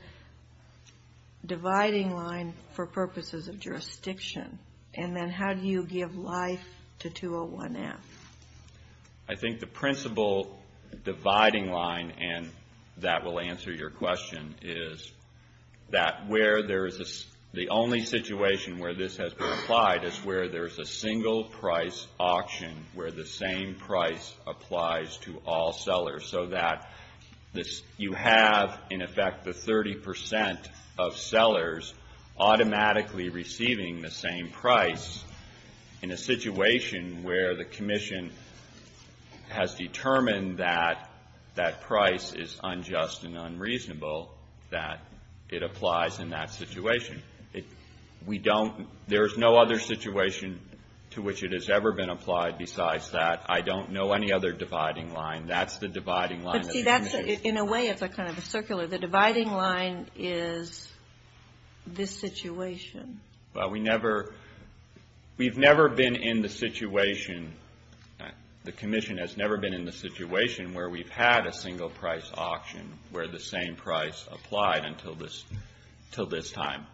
dividing line for purposes of jurisdiction? And then how do you give life to 201F? I think the principled dividing line, and that will answer your question, is that where there is... the only situation where this has been applied is where there's a single price auction where the same price applies to all sellers so that you have, in effect, the 30% of sellers automatically receiving the same price in a situation where the Commission has determined that that price is unjust and unreasonable, that it applies in that situation. We don't... There's no other situation to which it has ever been applied besides that. I don't know any other dividing line. That's the dividing line. In a way, it's kind of circular. The dividing line is this situation. Well, we never... We've never been in the situation... The Commission has never been in the situation where we've had a single price auction where the same price applied until this time.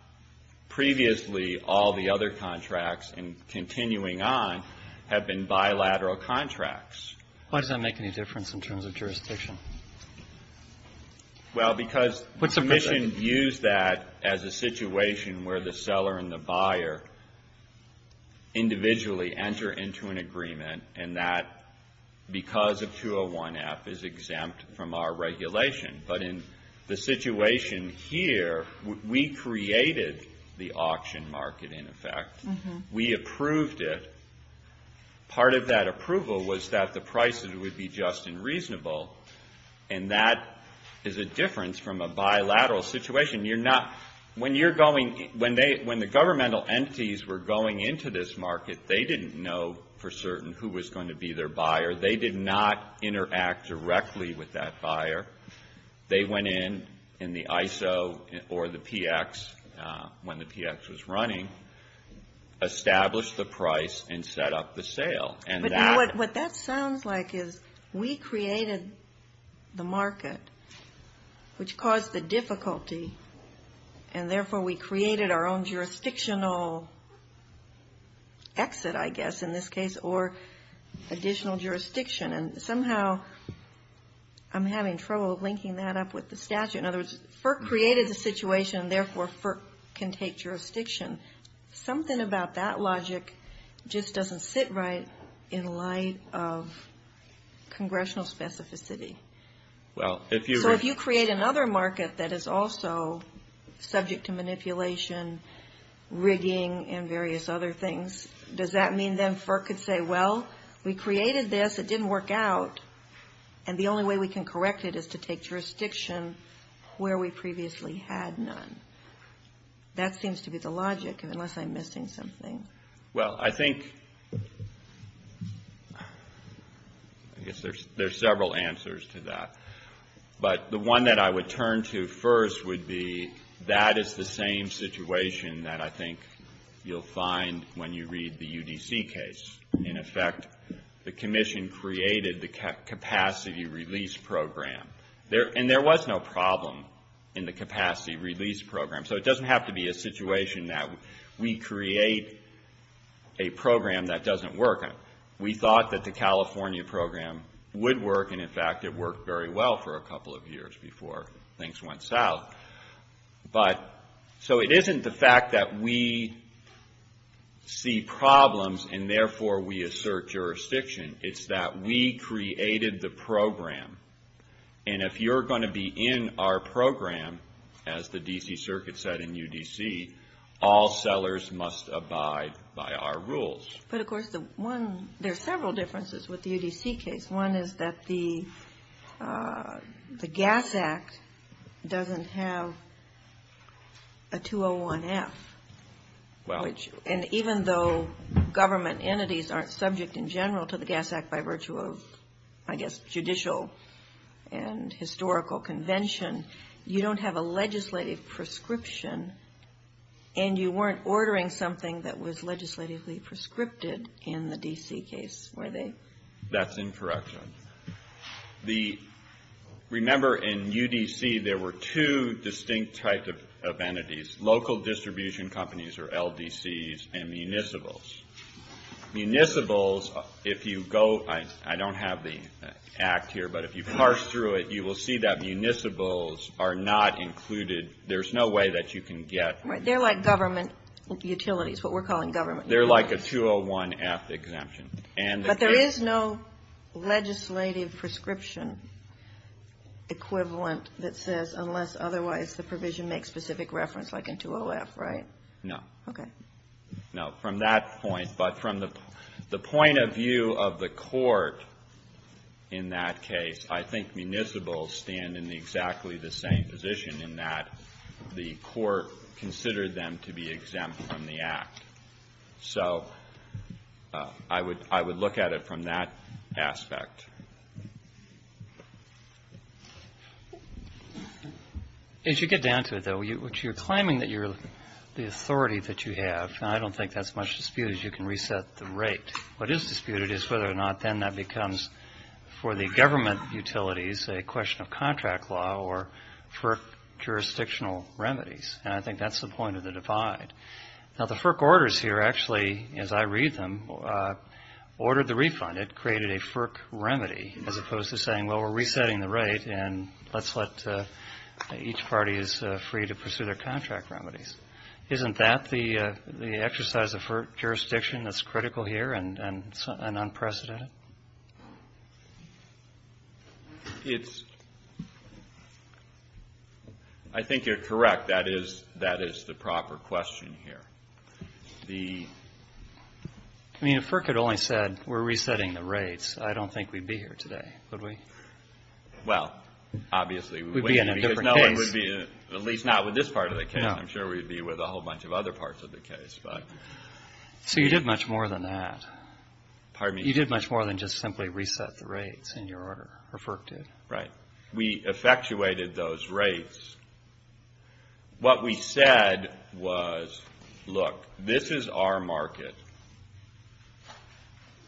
Previously, all the other contracts, and continuing on, have been bilateral contracts. Why does that make any difference in terms of jurisdiction? Well, because the Commission views that as a situation where the seller and the buyer individually enter into an agreement and that, because of 201F, is exempt from our regulation. But in the situation here, we created the auction market, in effect. We approved it. Part of that approval was that the price would be just and reasonable, and that is a difference from a bilateral situation. You're not... When you're going... When the governmental entities were going into this market, they didn't know for certain who was going to be their buyer. They did not interact directly with that buyer. They went in, in the ISO or the PX, when the PX was running, established the price and set up the sale. What that sounds like is we created the market, which caused the difficulty, and therefore we created our own jurisdictional exit, I guess, in this case, or additional jurisdiction. And somehow I'm having trouble linking that up with the statute. In other words, FERC created the situation, and therefore FERC can take jurisdiction. Something about that logic just doesn't sit right in light of congressional specificity. So if you create another market that is also subject to manipulation, rigging, and various other things, does that mean then FERC could say, well, we created this. It didn't work out. And the only way we can correct it is to take jurisdiction where we previously had none. That seems to be the logic, unless I'm missing something. Well, I think... I guess there's several answers to that. But the one that I would turn to first would be that is the same situation that I think you'll find when you read the UDC case. In effect, the commission created the capacity release program. And there was no problem in the capacity release program. So it doesn't have to be a situation that we create a program that doesn't work. We thought that the California program would work, and in fact it worked very well for a couple of years before things went south. So it isn't the fact that we see problems and therefore we assert jurisdiction. It's that we created the program. And if you're going to be in our program, as the D.C. Circuit said in UDC, all sellers must abide by our rules. But of course, there's several differences with the UDC case. One is that the Gas Act doesn't have a 201F. And even though government entities aren't subject in general to the Gas Act by virtue of, I guess, judicial and historical convention, you don't have a legislative prescription. And you weren't ordering something that was legislatively prescripted in the D.C. case, were they? That's incorrect. Remember, in UDC, there were two distinct types of entities. Local distribution companies, or LDCs, and municipals. Municipals, if you go... I don't have the Act here, but if you parse through it, you will see that municipals are not included. There's no way that you can get... They're like government utilities, what we're calling government utilities. They're like a 201F exemption. But there is no legislative prescription equivalent that says, unless otherwise the provision makes specific reference like a 201F, right? No. Okay. No, from that point, but from the point of view of the court in that case, I think municipals stand in exactly the same position in that the court considered them to be exempt from the Act. So I would look at it from that aspect. As you get down to it, though, which you're claiming that you're... the authority that you have, and I don't think that's much disputed, is you can reset the rate. What is disputed is whether or not then that becomes, for the government utilities, a question of contract law or FERC jurisdictional remedies. And I think that's the point of the divide. Now, the FERC orders here, actually, as I read them, ordered the refund. It created a FERC remedy as opposed to saying, well, we're resetting the rate and let's let each party is free to pursue their contract remedies. Isn't that the exercise of FERC jurisdiction that's critical here and unprecedented? It's... I think you're correct. In fact, that is the proper question here. The... I mean, if FERC had only said, we're resetting the rates, I don't think we'd be here today. Would we? Well, obviously. We'd be in a different case. At least not with this part of the case. I'm sure we'd be with a whole bunch of other parts of the case, but... So you did much more than that. Pardon me? You did much more than just simply reset the rates in your order, or FERC did. Right. When we effectuated those rates, what we said was, look, this is our market.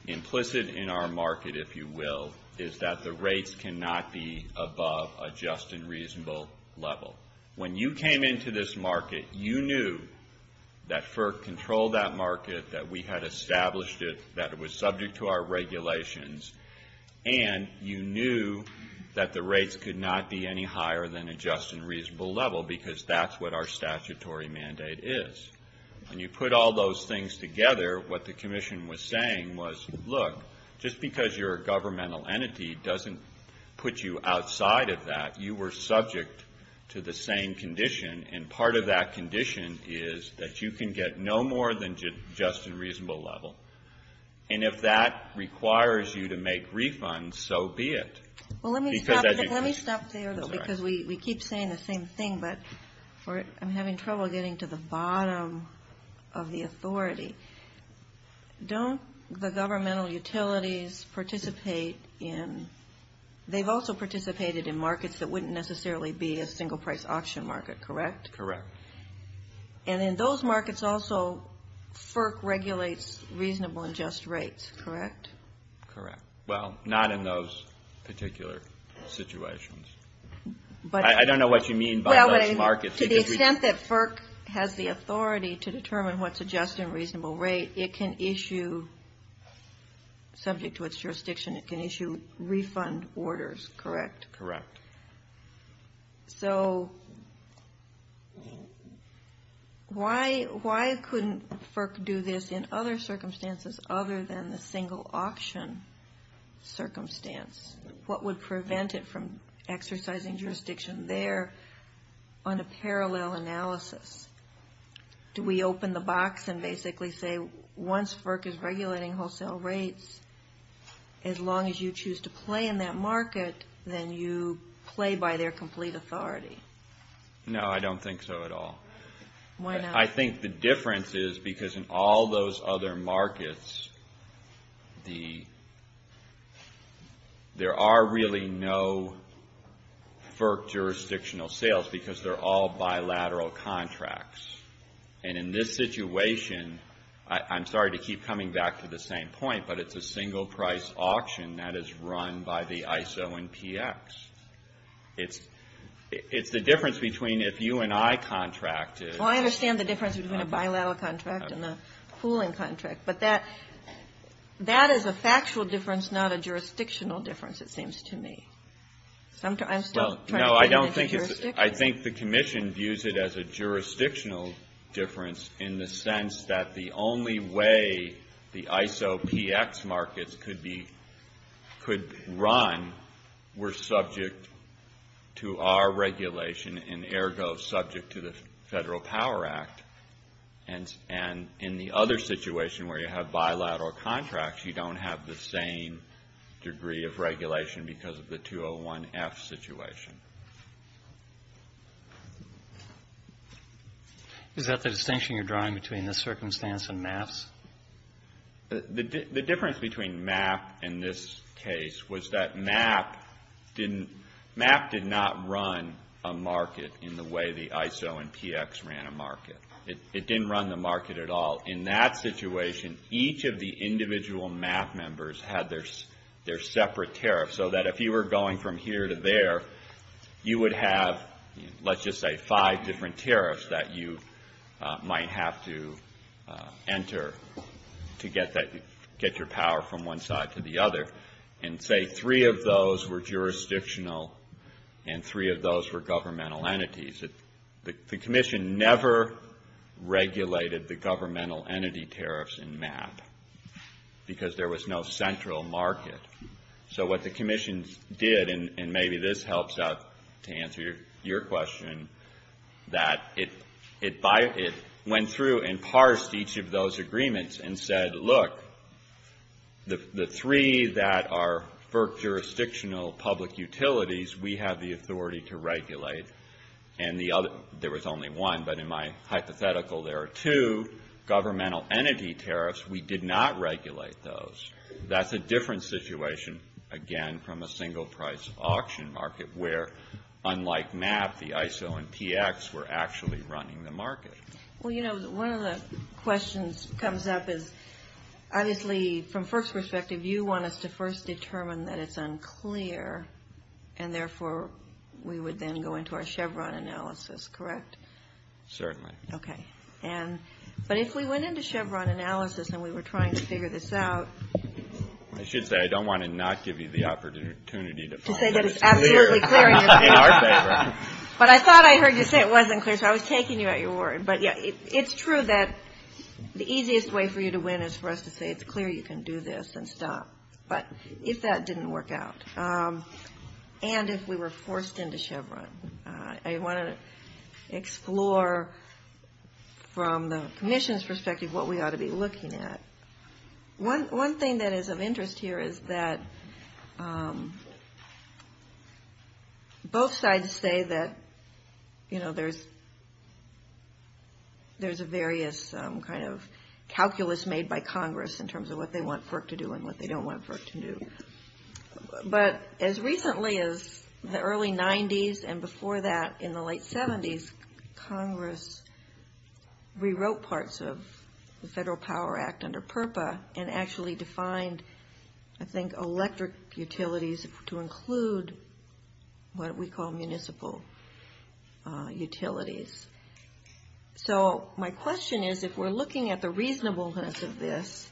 Implicit in our market, if you will, is that the rates cannot be above a just and reasonable level. When you came into this market, you knew that FERC controlled that market, that we had established it, that it was subject to our regulations, and you knew that the rates could not be any higher than a just and reasonable level because that's what our statutory mandate is. When you put all those things together, what the Commission was saying was, look, just because you're a governmental entity doesn't put you outside of that. You were subject to the same condition, and part of that condition is that you can get no more than just and reasonable level, and if that requires you to make refunds, so be it. Well, let me stop there, though, because we keep saying the same thing, but I'm having trouble getting to the bottom of the authority. Don't the governmental utilities participate in, they've also participated in markets that wouldn't necessarily be a single-price auction market, correct? Correct. And in those markets also, FERC regulates reasonable and just rates, correct? Correct. Well, not in those particular situations. I don't know what you mean by those markets. To the extent that FERC has the authority to determine what's a just and reasonable rate, it can issue, subject to its jurisdiction, it can issue refund orders, correct? Correct. So why couldn't FERC do this in other circumstances other than the single-option circumstance? What would prevent it from exercising jurisdiction there on a parallel analysis? Do we open the box and basically say, once FERC is regulating wholesale rates, as long as you choose to play in that market, then you play by their complete authority? No, I don't think so at all. I think the difference is because in all those other markets, there are really no FERC jurisdictional sales because they're all bilateral contracts. And in this situation, I'm sorry to keep coming back to the same point, but it's a single-price auction and that is run by the ISO and PX. The difference between if you and I contract is... Well, I understand the difference between a bilateral contract and a pooling contract, but that is a factual difference, not a jurisdictional difference, it seems to me. No, I think the Commission views it as a jurisdictional difference in the sense that the only way the ISO PX markets could run were subject to our regulation and ergo subject to the Federal Power Act. And in the other situation where you have bilateral contracts, you don't have the same degree of regulation Is that the distinction you're drawing between the circumstance and MAPs? The difference between MAP and this case was that MAP did not run a market in the way the ISO and PX ran a market. It didn't run the market at all. In that situation, each of the individual MAP members had their separate tariffs so that if you were going from here to there, you would have, let's just say, five different tariffs that you might have to enter to get your power from one side to the other. And say three of those were jurisdictional and three of those were governmental entities. The Commission never regulated the governmental entity tariffs in MAP because there was no central market. So what the Commission did, and maybe this helps out to answer your question, that it went through and parsed each of those agreements and said, look, the three that are for jurisdictional public utilities, we have the authority to regulate, and the other, there was only one, but in my hypothetical there are two, governmental entity tariffs, we did not regulate those. That's a different situation, again, from a single-price auction market where, unlike MAP, the ISO and PX were actually running the market. Well, you know, one of the questions that comes up is, obviously, from first perspective, you want us to first determine that it's unclear and therefore we would then go into our Chevron analysis, correct? Certainly. Okay. But if we went into Chevron analysis and we were trying to figure this out... I should say, I don't want to not give you the opportunity... To say that it's absolutely clear. But I thought I heard you say it wasn't clear, so I was taking you at your word, but it's true that the easiest way for you to win is for us to say it's clear you can do this and stop. But if that didn't work out, and if we were forced into Chevron, I want to explore from the Commission's perspective what we ought to be looking at. One thing that is of interest here is that both sides say that, you know, there's various kind of calculus made by Congress in terms of what they want FERC to do and what they don't want FERC to do. But as recently as the early 90s, and before that in the late 70s, Congress rewrote parts of the Federal Power Act under PURPA and actually defined, I think, electric utilities to include what we call municipal utilities. So my question is, if we're looking at the reasonableness of this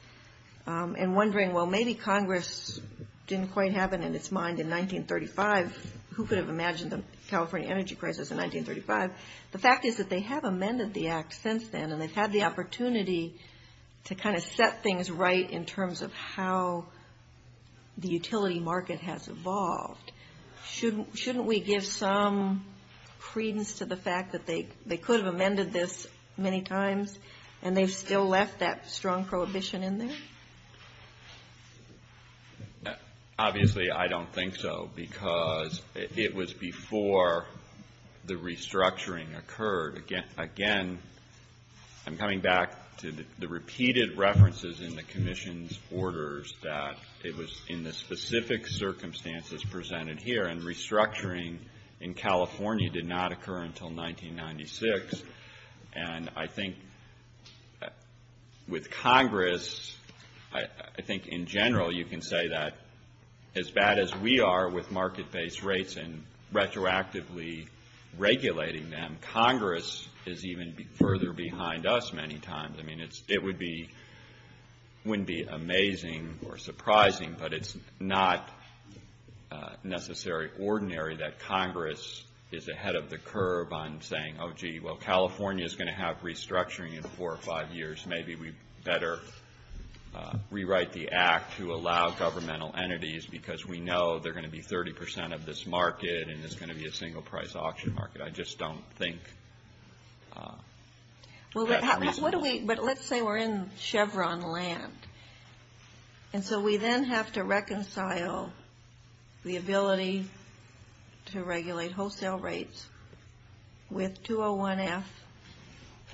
and wondering, well, maybe Congress didn't quite have it in its mind in 1935, who could have imagined the California energy crisis in 1935? Because the fact is that they have amended the Act since then, and they've had the opportunity to kind of set things right in terms of how the utility market has evolved. Shouldn't we give some credence to the fact that they could have amended this many times and they've still left that strong prohibition in there? Obviously, I don't think so, because it was before the restructuring occurred. Again, I'm coming back to the repeated references in the Commission's orders that it was in the specific circumstances presented here, and restructuring in California did not occur until 1996. And I think with Congress, I think in general, you can say that as bad as we are with market-based rates and retroactively regulating them, Congress is even further behind us many times. I mean, it wouldn't be amazing or surprising, but it's not necessarily ordinary that Congress is ahead of the curve on saying, oh, gee, well, California is going to have restructuring in four or five years. I guess maybe we'd better rewrite the act to allow governmental entities, because we know they're going to be 30% of this market and it's going to be a single-price auction market. I just don't think... But let's say we're in Chevron land, and so we then have to reconcile the ability to regulate wholesale rates with 201F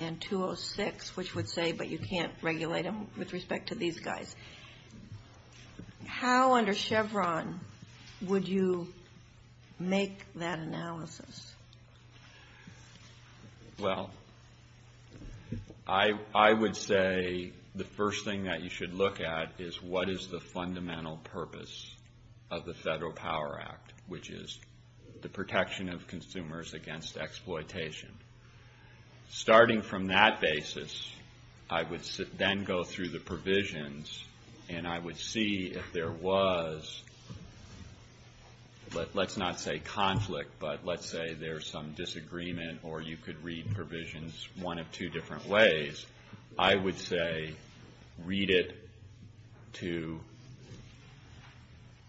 and 206, which would say, but you can't regulate them with respect to these guys. How, under Chevron, would you make that analysis? Well, I would say the first thing that you should look at is what is the fundamental purpose of the Federal Power Act, which is the protection of consumers against exploitation. Starting from that basis, I would then go through the provisions and I would see if there was... Let's not say conflict, but let's say there's some disagreement or you could read provisions one of two different ways. I would say read it to...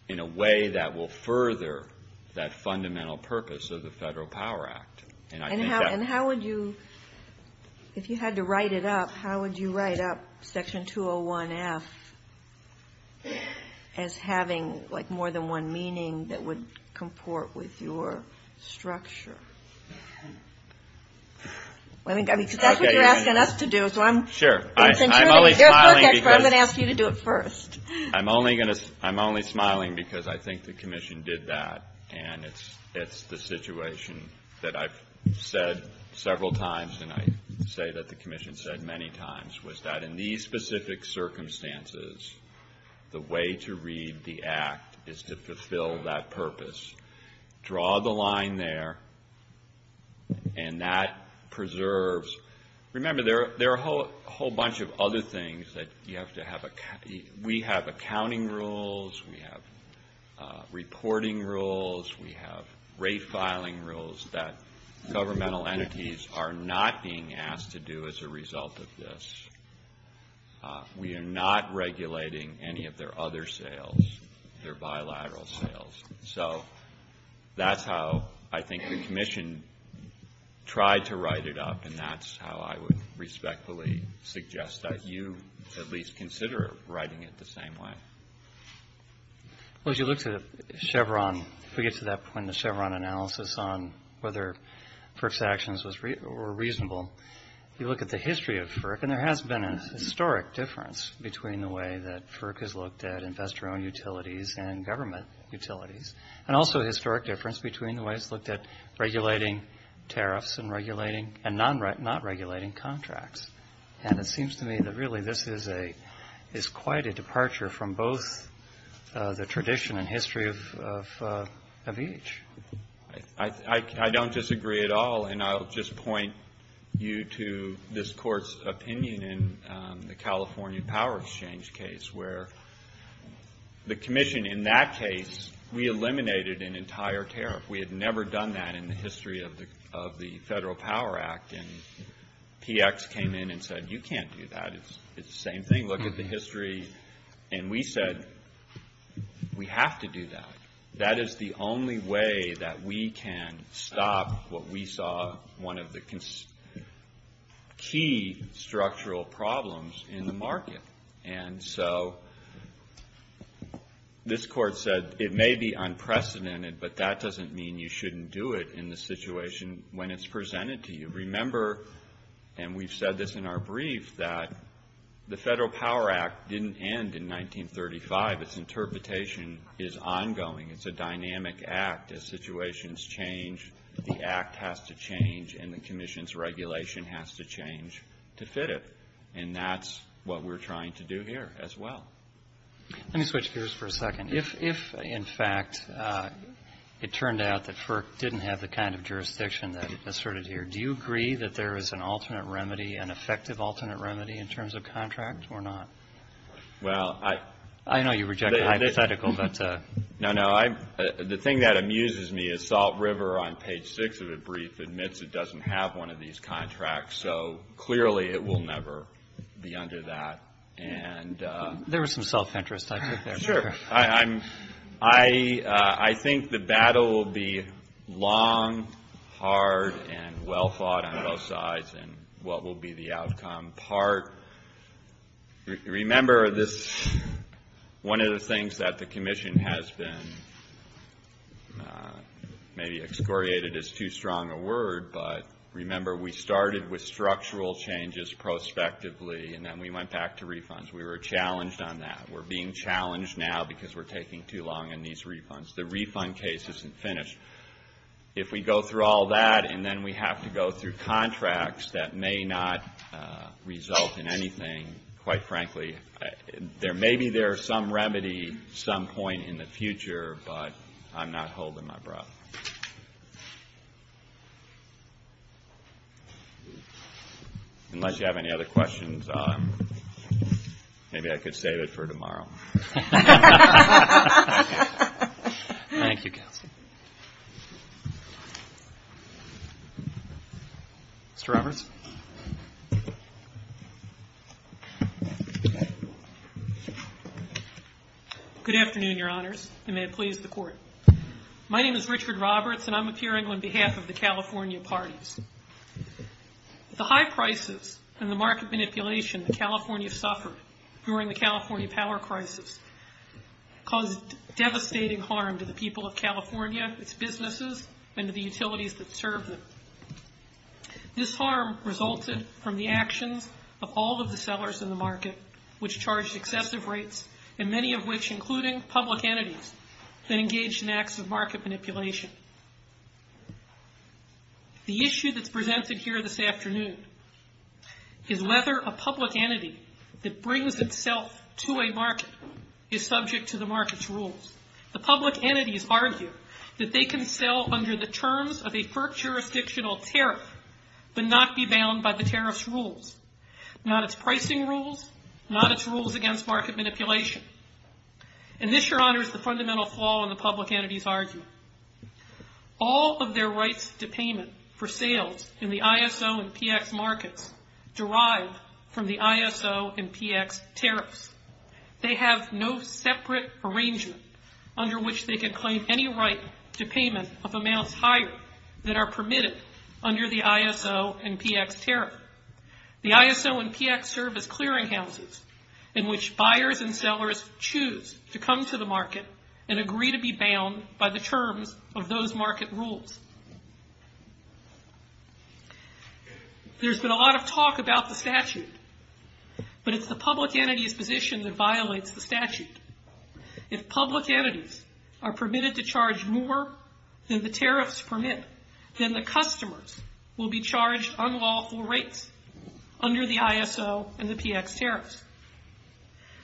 That's the first thing that you should look at is what is the fundamental purpose of the Federal Power Act. And how would you, if you had to write it up, how would you write up Section 201F as having more than one meaning that would comport with your structure? Because that's what you're asking us to do. Sure. I'm going to ask you to do it first. I'm only smiling because I think the Commission did that and it's the situation that I've said several times and I say that the Commission said many times, was that in these specific circumstances, the way to read the Act is to fulfill that purpose. Draw the line there and that preserves... Remember, there are a whole bunch of other things that you have to have... We have accounting rules, we have reporting rules, we have rate filing rules that governmental entities are not being asked to do as a result of this. We are not regulating any of their other sales, their bilateral sales. So that's how I think the Commission tried to write it up and that's how I would respectfully suggest that you at least consider writing it the same way. As you look at Chevron, we get to that point in the Chevron analysis on whether FERC's actions were reasonable. You look at the history of FERC and there has been a historic difference between the way that FERC has looked at investor-owned utilities and government utilities and also a historic difference between the way it's looked at regulating tariffs and non-regulating contracts. And it seems to me that really this is quite a departure from both the tradition and history of each. I don't disagree at all and I'll just point you to this Court's opinion in the California Power Exchange case where the Commission in that case, we eliminated an entire tariff. We had never done that in the history of the Federal Power Act and PX came in and said you can't do that. It's the same thing. Look at the history. And we said we have to do that. That is the only way that we can stop what we saw one of the key structural problems in the market. And so this Court said it may be unprecedented but that doesn't mean you shouldn't do it in the situation when it's presented to you. Remember, and we've said this in our brief, that the Federal Power Act didn't end in 1935. Its interpretation is ongoing. It's a dynamic act. As situations change, the act has to change and the Commission's regulation has to change to fit it. And that's what we're trying to do here as well. Let me switch gears for a second. If, in fact, it turned out that FERC didn't have the kind of jurisdiction that it asserted here, do you agree that there is an alternate remedy, an effective alternate remedy in terms of contracts or not? I know you reject hypotheticals. No, no. The thing that amuses me is Salt River on page 6 of the brief admits it doesn't have one of these contracts. So clearly it will never be under that. There was some self-interest there. Sure. I think the battle will be long, hard, and well fought on both sides in what will be the outcome part. Remember, one of the things that the Commission has been maybe excoriated is too strong a word, but remember, we started with structural changes prospectively and then we went back to refunds. We were challenged on that. We're being challenged now because we're taking too long on these refunds. The refund case isn't finished. If we go through all that and then we have to go through contracts that may not result in anything, quite frankly, maybe there is some remedy at some point in the future, but I'm not holding my breath. Unless you have any other questions, maybe I could save it for tomorrow. Thank you. Mr. Robertson. Good afternoon, Your Honors, and may it please the Court. My name is Richard Robertson. I'm appearing on behalf of the California parties. The high prices and the market manipulation that California suffered during the California power crisis caused devastating harm to the people of California, its businesses, and to the utilities that served them. This harm resulted from the actions of all of the sellers in the market, which charged excessive rates, and many of which, including public entities, to engage in acts of market manipulation. The issue that's presented here this afternoon is whether a public entity that brings itself to a market is subject to the market's rules. The public entities argue that they can sell under the terms of a per-jurisdictional tariff but not be bound by the tariff's rules, not its pricing rules, not its rules against market manipulation. And this, Your Honors, is the fundamental flaw in the public entity's argument. All of their rights to payment for sales in the ISO and PX markets derive from the ISO and PX tariffs. They have no separate arrangements under which they can claim any rights to payment of amounts higher than are permitted under the ISO and PX tariffs. However, the ISO and PX serve as clearinghouses in which buyers and sellers choose to come to the market and agree to be bound by the terms of those market rules. There's been a lot of talk about the statute, but it's the public entity's position that violates the statute. If public entities are permitted to charge more than the tariffs permit, then the customers will be charged unlawful rates under the ISO and the PX tariffs.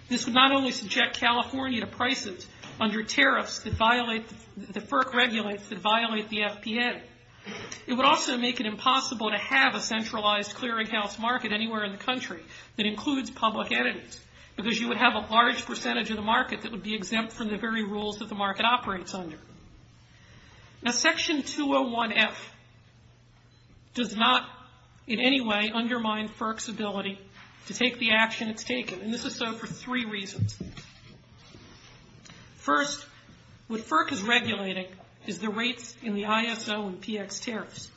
This would not only subject California to prices under tariffs that violate the FERC regulates that violate the FPA, it would also make it impossible to have a centralized clearinghouse market anywhere in the country that includes public entities because you would have a large percentage of the market that would be exempt from the very rules that the market operates under. Now, section 201F does not in any way undermine FERC's ability to take the action it's taken, and this is so for three reasons. First, what FERC is regulating is the rates in the ISO and PX tariffs.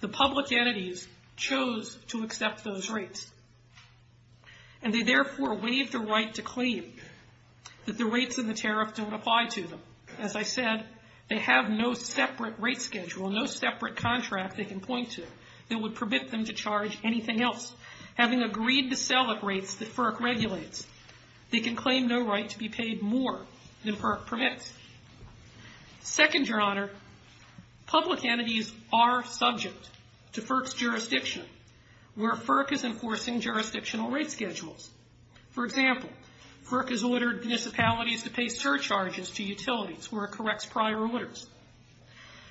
The public entities chose to accept those rates, and they therefore waive the right to claim that the rates in the tariffs don't apply to them. As I said, they have no separate rate schedule, no separate contract they can point to that would permit them to charge anything else. Having agreed to sell at rates that FERC regulates, they can claim no right to be paid more than FERC permits. Second, Your Honor, public entities are subject to FERC's jurisdiction, where FERC is enforcing jurisdictional rate schedules. For example, FERC has ordered municipalities to pay surcharges to utilities where it corrects prior orders.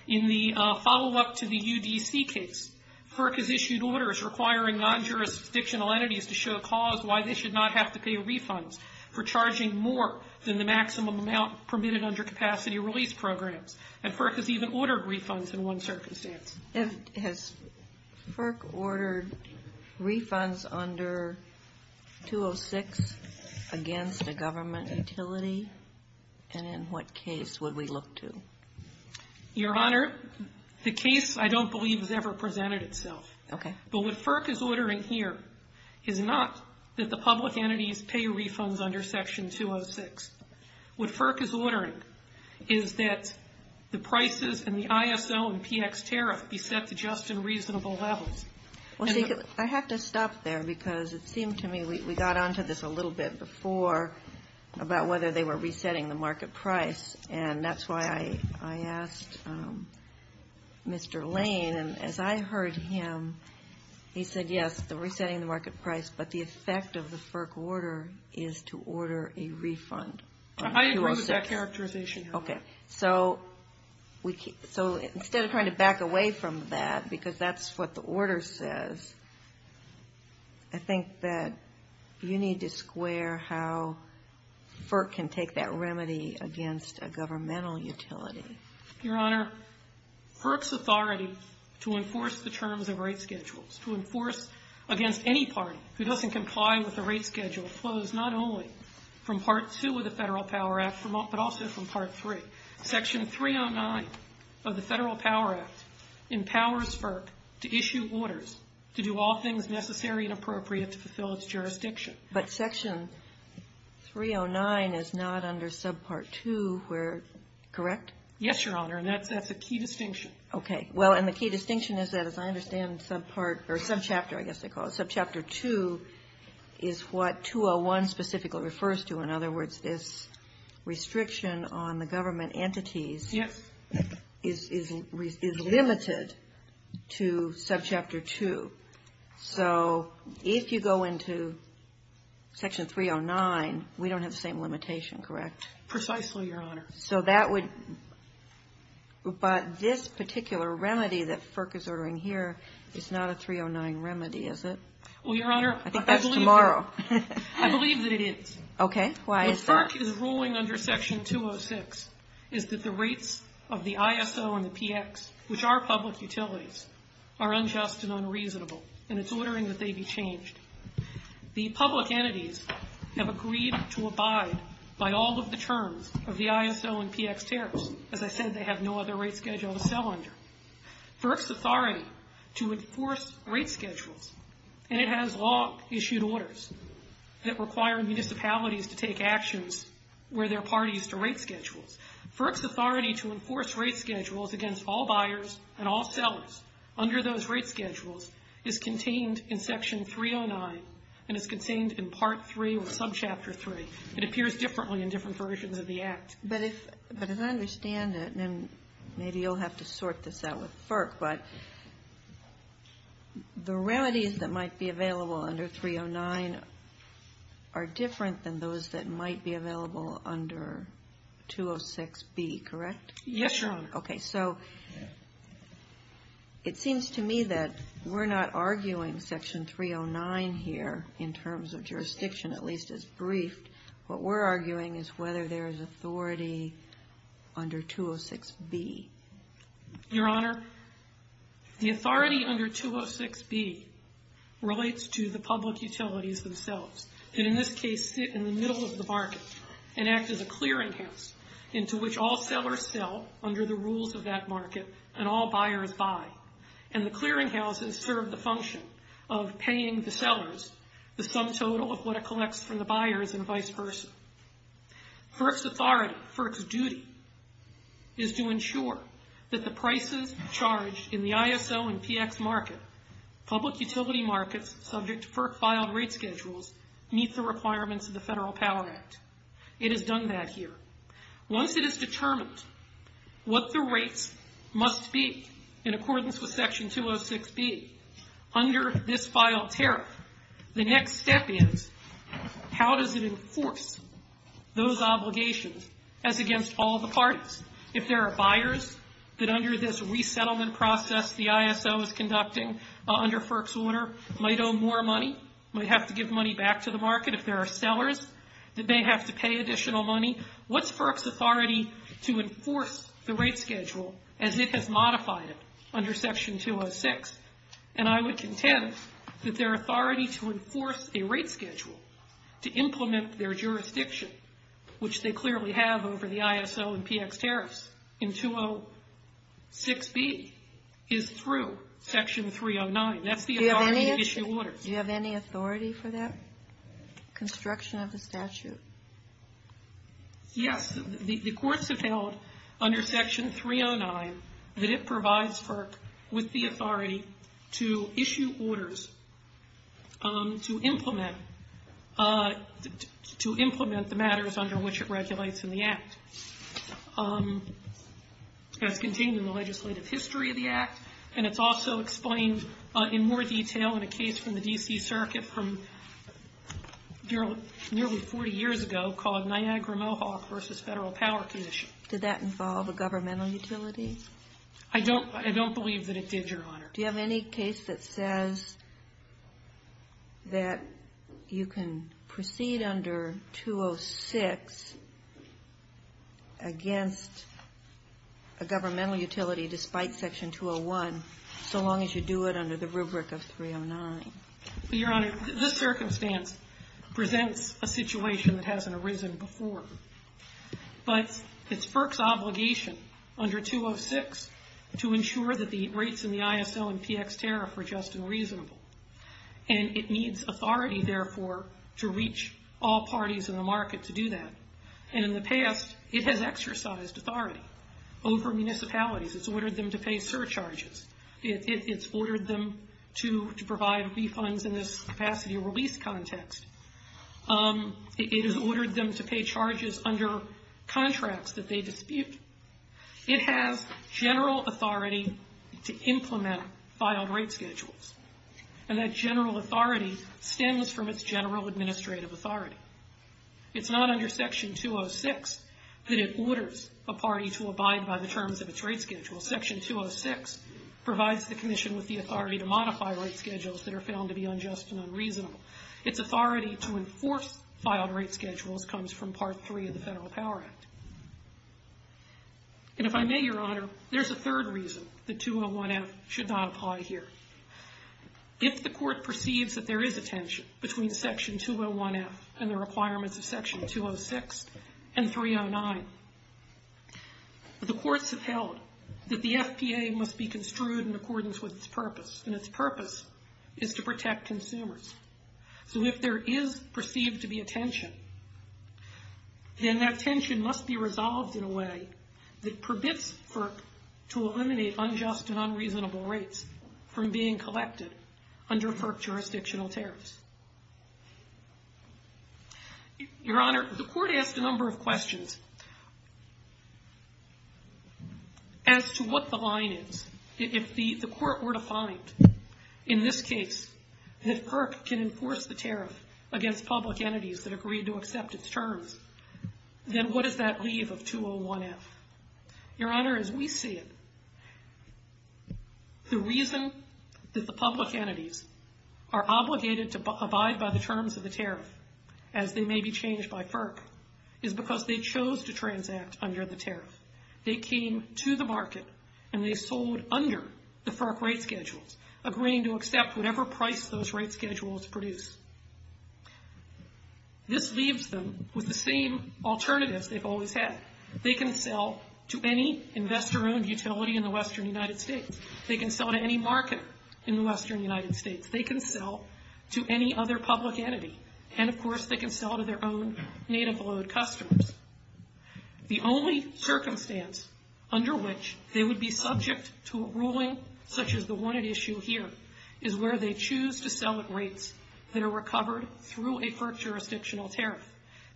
In the follow-up to the UDC case, FERC has issued orders requiring non-jurisdictional entities to show cause why they should not have to pay refunds for charging more than the maximum amount permitted under capacity release programs, and FERC has even ordered refunds in one circumstance. Has FERC ordered refunds under 206 against a government utility? And in what case would we look to? Your Honor, the case I don't believe has ever presented itself. Okay. But what FERC is ordering here is not that the public entities pay refunds under Section 206. What FERC is ordering is that the prices in the ISO and PX tariff be set to just and reasonable levels. I have to stop there because it seemed to me we got onto this a little bit before about whether they were resetting the market price, and that's why I asked Mr. Lane, and as I heard him, he said, yes, they're resetting the market price, but the effect of the FERC order is to order a refund. I agree with that characterization. Okay. So instead of trying to back away from that because that's what the order says, I think that you need to square how FERC can take that remedy against a governmental utility. Your Honor, FERC's authority to enforce the terms of rate schedules, to enforce against any party who doesn't comply with the rate schedule, flows not only from Part 2 of the Federal Power Act, but also from Part 3. Section 309 of the Federal Power Act empowers FERC to issue orders to do all things necessary and appropriate to fulfill its jurisdiction. But Section 309 is not under Subpart 2, correct? Yes, Your Honor, and that's a key distinction. Okay. Well, and the key distinction is that as I understand Subpart, or Subchapter, I guess they call it, Subchapter 2 is what 201 specifically refers to. In other words, this restriction on the government entities is limited to Subchapter 2. So if you go into Section 309, we don't have the same limitation, correct? Precisely, Your Honor. So that would – but this particular remedy that FERC is ordering here is not a 309 remedy, is it? Well, Your Honor – I think that's tomorrow. I believe that it is. Okay, why is that? If FERC is ruling under Section 206, is that the rates of the ISO and the PX, which are public utilities, are unjust and unreasonable, and it's ordering that they be changed. The public entities have agreed to abide by all of the terms of the ISO and PX tariffs. As I said, they have no other rate schedule to sell under. FERC's authority to enforce rate schedules, and it has long issued orders that require municipalities to take actions where their parties to rate schedules. FERC's authority to enforce rate schedules against all buyers and all sellers under those rate schedules is contained in Section 309 and is contained in Part 3 or some Chapter 3. It appears differently in different versions of the Act. But as I understand it, and maybe you'll have to sort this out with FERC, but the remedies that might be available under 309 are different than those that might be available under 206B, correct? Yes, Your Honor. Okay, so it seems to me that we're not arguing Section 309 here in terms of jurisdiction, at least it's briefed. What we're arguing is whether there is authority under 206B. Your Honor, the authority under 206B relates to the public utilities themselves that in this case sit in the middle of the market and act as a clearinghouse into which all sellers sell under the rules of that market and all buyers buy, and the clearinghouses serve the function of paying the sellers the sum total of what it collects from the buyers and vice versa. FERC's authority, FERC's duty, is to ensure that the prices charged in the ISO and PF market, public utility markets subject to FERC-filed rate schedules, meet the requirements of the Federal Power Act. It has done that here. Once it is determined what the rates must be in accordance with Section 206B under this filed tariff, the next step is how does it enforce those obligations as against all the parties? If there are buyers that under this resettlement process the ISO is conducting under FERC's order might owe more money, might have to give money back to the market if there are sellers that may have to pay additional money, what's FERC's authority to enforce the rate schedule as it has modified it under Section 206? And I would contend that their authority to enforce a rate schedule to implement their jurisdiction, which they clearly have over the ISO and PF tariffs in 206B, is through Section 309. That's the authority to issue orders. Do you have any authority for that construction of the statute? Yes. The courts have held under Section 309 that it provides FERC with the authority to issue orders to implement the matters under which it regulates in the Act. That's contained in the legislative history of the Act and it's also explained in more detail in a case from the D.C. Circuit from nearly 40 years ago called Niagara-Mohawk v. Federal Power Commission. Did that involve a governmental utility? I don't believe that it did, Your Honor. Do you have any case that says that you can proceed under 206 against a governmental utility despite Section 201 so long as you do it under the rubric of 309? Your Honor, this circumstance presents a situation that hasn't arisen before. But it's FERC's obligation under 206 to ensure that the rates in the ISO and PF tariff were just and reasonable. And it needs authority, therefore, to reach all parties in the market to do that. And in the past, it has exercised authority over municipalities. It's ordered them to pay surcharges. It's ordered them to provide refunds in this capacity release context. It has ordered them to pay charges under contracts that they dispute. It has general authority to implement filed rate schedules. And that general authority stems from its general administrative authority. It's not under Section 206 that it orders a party to abide by the terms of its rate schedule. Section 206 provides the Commission with the authority to modify rate schedules that are found to be unjust and unreasonable. Its authority to enforce filed rate schedules comes from Part 3 of the Federal Power Act. And if I may, Your Honor, there's a third reason that 201F should not apply here. If the Court perceives that there is a tension between Section 201F and the requirements of Section 206 and 309, the Court should tell it that the SPA must be construed in accordance with its purpose. And its purpose is to protect consumers. So if there is perceived to be a tension, then that tension must be resolved in a way that permits PERC to eliminate unjust and unreasonable rates from being collected under PERC jurisdictional tariffs. Your Honor, the Court asked a number of questions as to what the line is. If the Court were to find, in this case, that PERC can enforce the tariffs against public entities that agree to accept its terms, then what does that leave of 201F? Your Honor, as we see it, the reason that the public entities are obligated to abide by the terms of the tariffs, as they may be changed by PERC, is because they chose to transact under the tariffs. They came to the market and they sold under the PERC rate schedules, agreeing to accept whatever price those rate schedules produce. This leaves them with the same alternative they've always had. They can sell to any investor-owned utility in the western United States. They can sell to any market in the western United States. They can sell to any other public entity. And, of course, they can sell to their own native oil customers. The only circumstance under which they would be subject to a ruling such as the one at issue here, is where they choose to sell at rates that are recovered through a PERC jurisdictional tariff,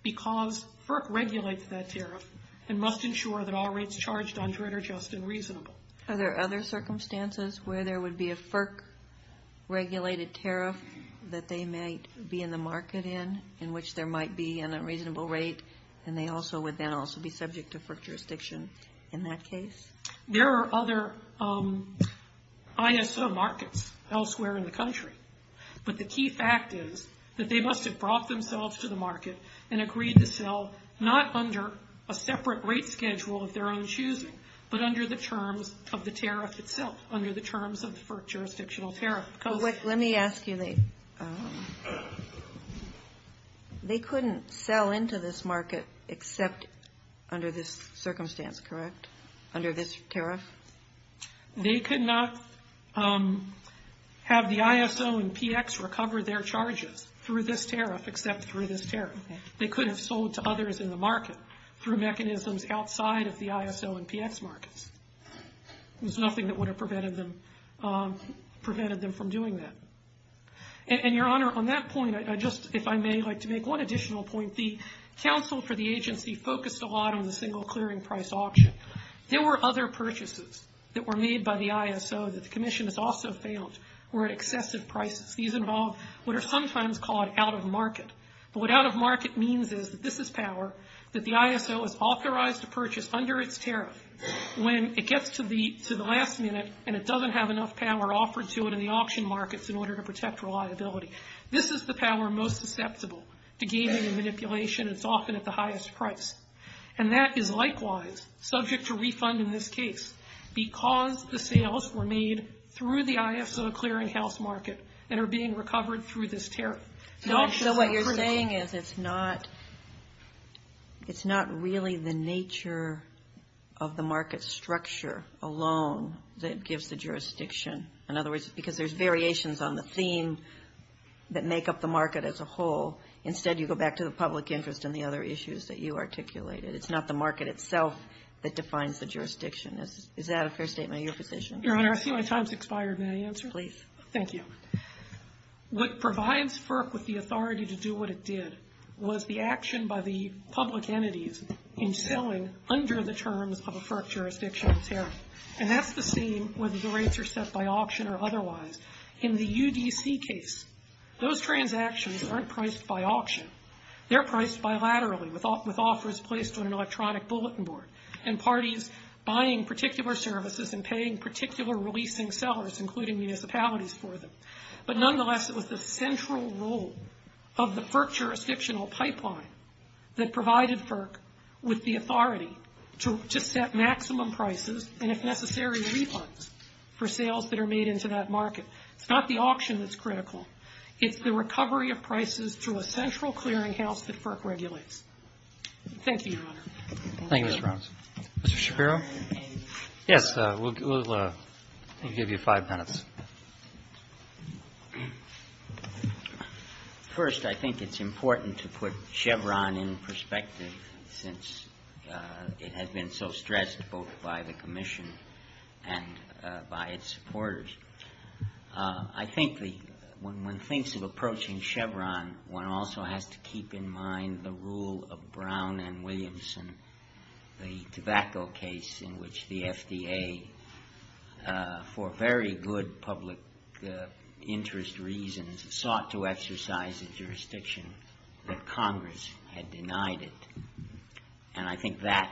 because PERC regulates that tariff and must ensure that all rates charged under it are just and reasonable. Are there other circumstances where there would be a PERC-regulated tariff that they may be in the market in, in which there might be an unreasonable rate, and they also would then also be subject to PERC jurisdiction in that case? There are other ISO markets elsewhere in the country. But the key fact is that they must have brought themselves to the market and agreed to sell not under a separate rate schedule of their own choosing, but under the terms of the tariff itself, under the terms of the PERC jurisdictional tariff. Let me ask you this. They couldn't sell into this market except under this circumstance, correct? Under this tariff? They could not have the ISO and PX recover their charges through this tariff except through this tariff. They could have sold to others in the market through mechanisms outside of the ISO and PX markets. There's nothing that would have prevented them from doing that. And, Your Honor, on that point, if I may like to make one additional point. If the counsel for the agency focused a lot on the single clearing price auction, there were other purchases that were made by the ISO that the Commission has also found were at excessive prices. These involve what are sometimes called out-of-market. But what out-of-market means is that this is power, that the ISO is authorized to purchase under its tariff when it gets to the last minute and it doesn't have enough power offered to it in the auction markets in order to protect reliability. This is the power most susceptible to gain and manipulation. It's often at the highest price. And that is likewise subject to refund in this case because the sales were made through the ISO clearinghouse market and are being recovered through this tariff. So what you're saying is it's not really the nature of the market structure alone that gives the jurisdiction. In other words, because there's variations on the theme that make up the market as a whole, instead you go back to the public interest and the other issues that you articulated. It's not the market itself that defines the jurisdiction. Is that a fair statement of your position? Your Honor, I see my time has expired. May I answer? Please. Thank you. What provides FERC with the authority to do what it did was the action by the public entities in selling under the terms of a FERC jurisdictional tariff. And that's the same whether the rates are set by auction or otherwise. In the UDC case, those transactions aren't priced by auction. They're priced bilaterally with offers placed on an electronic bulletin board and parties buying particular services and paying particular releasing sellers including municipalities for them. But nonetheless, it was the central role of the FERC jurisdictional pipeline that provided FERC with the authority to set maximum prices and if necessary refunds for sales that are made into that market. It's not the auction that's critical. It's the recovery of prices through a central clearinghouse that FERC regulates. Thank you, Your Honor. Thank you, Mr. Robinson. Mr. Shapiro? Yes, we'll give you five minutes. First, I think it's important to put Chevron in perspective since it has been so stressed both by the Commission and by its supporters. I think when one thinks of approaching Chevron, one also has to keep in mind the rule of Brown and Williamson, the tobacco case in which the FDA, for very good public interest reasons, sought to exercise a jurisdiction that Congress had denied it. And I think that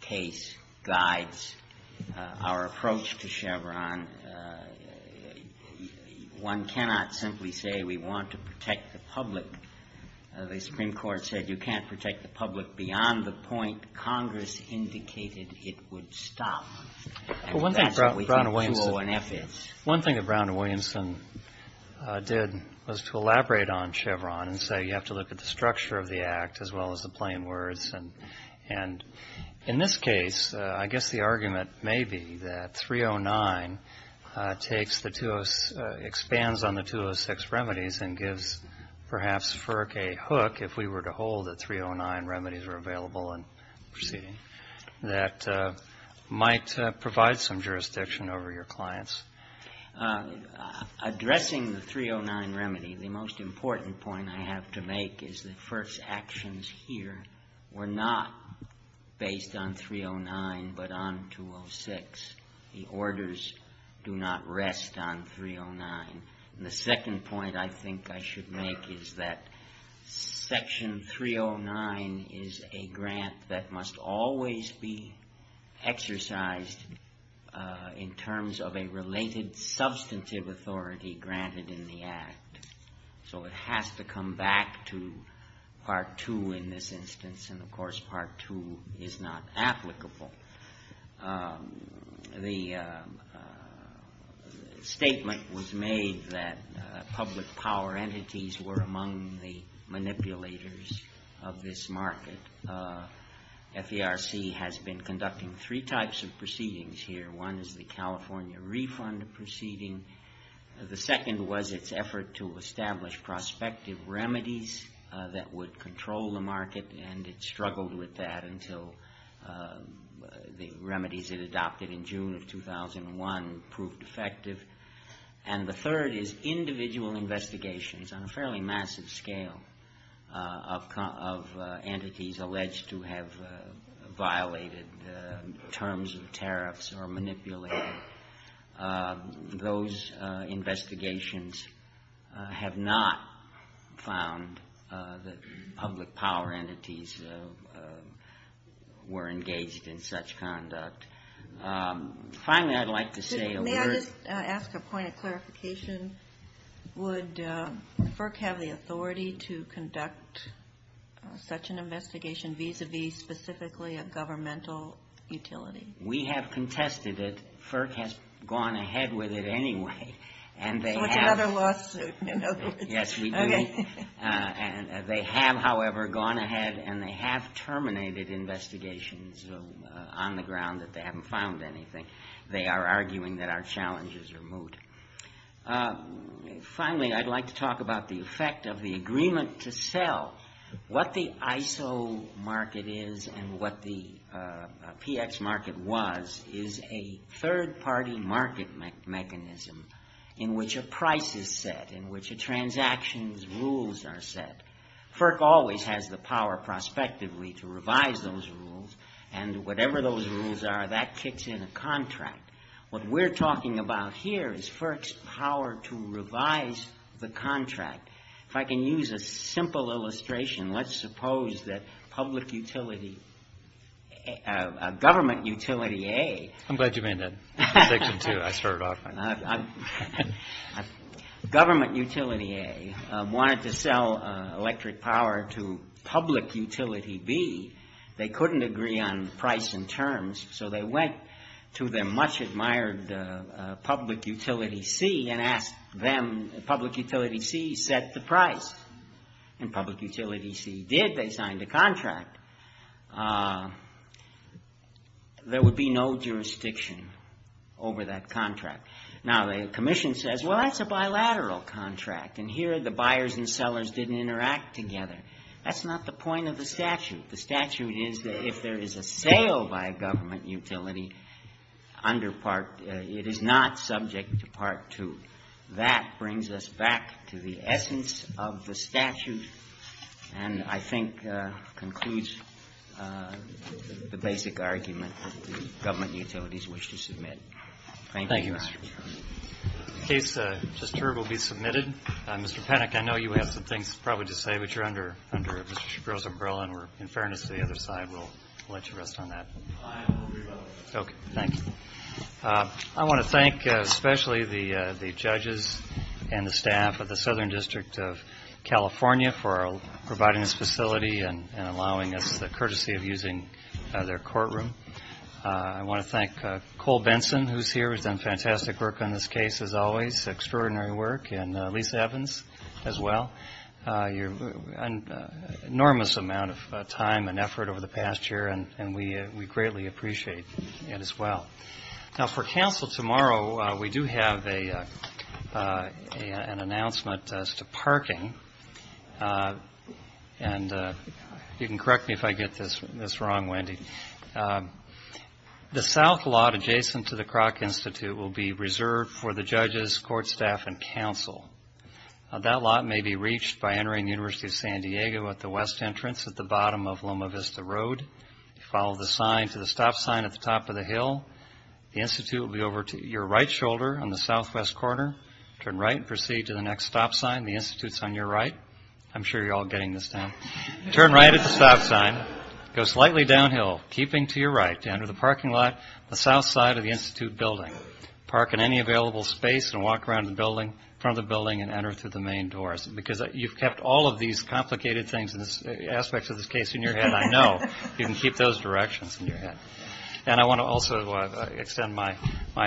case guides our approach to Chevron. One cannot simply say we want to protect the public. The Supreme Court said you can't protect the public beyond the point that Congress indicated it would stop. One thing that Brown and Williamson did was to elaborate on Chevron and say you have to look at the structure of the act as well as the plain words. And in this case, I guess the argument may be that 309 expands on the 206 remedies and gives perhaps FERC a hook if we were to hold that 309 remedies were available and proceeding that might provide some jurisdiction over your clients. Addressing the 309 remedy, the most important point I have to make is that FERC's actions here were not based on 309 but on 206. The orders do not rest on 309. And the second point I think I should make is that Section 309 is a grant that must always be exercised in terms of a related substantive authority granted in the act. So it has to come back to Part 2 in this instance, and of course Part 2 is not applicable. The statement was made that public power entities were among the manipulators of this market. FERC has been conducting three types of proceedings here. One is the California refund proceeding. The second was its effort to establish prospective remedies that would control the market and it struggled with that until the remedies it adopted in June of 2001 proved effective. And the third is individual investigations on a fairly massive scale of entities alleged to have violated terms of tariffs or manipulated. Those investigations have not found that public power entities were engaged in such conduct. Finally, I'd like to say... May I just ask a point of clarification? Would FERC have the authority to conduct such an investigation vis-à-vis specifically a governmental utility? We have contested it. FERC has gone ahead with it anyway. Whichever lawsuit, you know. Yes, we do. They have, however, gone ahead and they have terminated investigations on the ground that they haven't found anything. They are arguing that our challenges are moot. Well, what the ISO market is and what the PX market was is a third-party market mechanism in which a price is set, in which a transaction's rules are set. FERC always has the power prospectively to revise those rules and whatever those rules are, that kicks in a contract. What we're talking about here is FERC's power to revise the contract. If I can use a simple illustration, let's suppose that public utility... Government Utility A... I'm glad you made that distinction, too. I started off on that. Government Utility A wanted to sell electric power to Public Utility B. They couldn't agree on price and terms, so they went to their much-admired Public Utility C and asked them, Public Utility C, set the price. And Public Utility C did. They signed a contract. There would be no jurisdiction over that contract. Now, the Commission says, well, that's a bilateral contract, and here the buyers and sellers didn't interact together. That's not the point of the statute. The statute is that if there is a sale by a government utility under Part... It is not subject to Part 2. That brings us back to the essence of the statute and I think concludes the basic argument that the government utilities wish to submit. Thank you. In case a disturb will be submitted, Mr. Panik, I know you have some things probably to say, but you're under Mr. Shapiro's umbrella and we're in fairness to the other side. We'll let you rest on that. Okay, thanks. I want to thank especially the judges and the staff of the Southern District of California for providing this facility and allowing us the courtesy of using their courtroom. I want to thank Cole Benson, who's here, who's done fantastic work on this case as always, extraordinary work, and Lisa Evans as well. An enormous amount of time and effort over the past year and we greatly appreciate it as well. Now, for council tomorrow, we do have an announcement as to parking. You can correct me if I get this wrong, Wendy. The south lot adjacent to the Kroc Institute will be reserved for the judges, court staff, and council. Now, that lot may be reached by entering the University of San Diego at the west entrance at the bottom of Loma Vista Road. Follow the sign to the stop sign at the top of the hill. The Institute will be over to your right shoulder on the southwest corner. Turn right and proceed to the next stop sign. The Institute's on your right. I'm sure you're all getting this now. Turn right at the stop sign. Go slightly downhill, keeping to your right. Enter the parking lot on the south side of the Institute building. Park in any available space and walk around the building, from the building and enter through the main doors. Because you've kept all of these complicated aspects of this case in your head, I know. You can keep those directions in your head. And I want to also extend my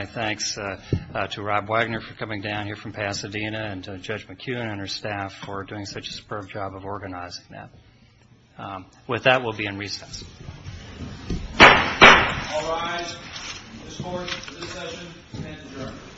thanks to Rob Wagner for coming down here from Pasadena and to Judge McKeon and her staff for doing such a superb job of organizing that. With that, we'll be in recess. All rise. This court, this session, is adjourned.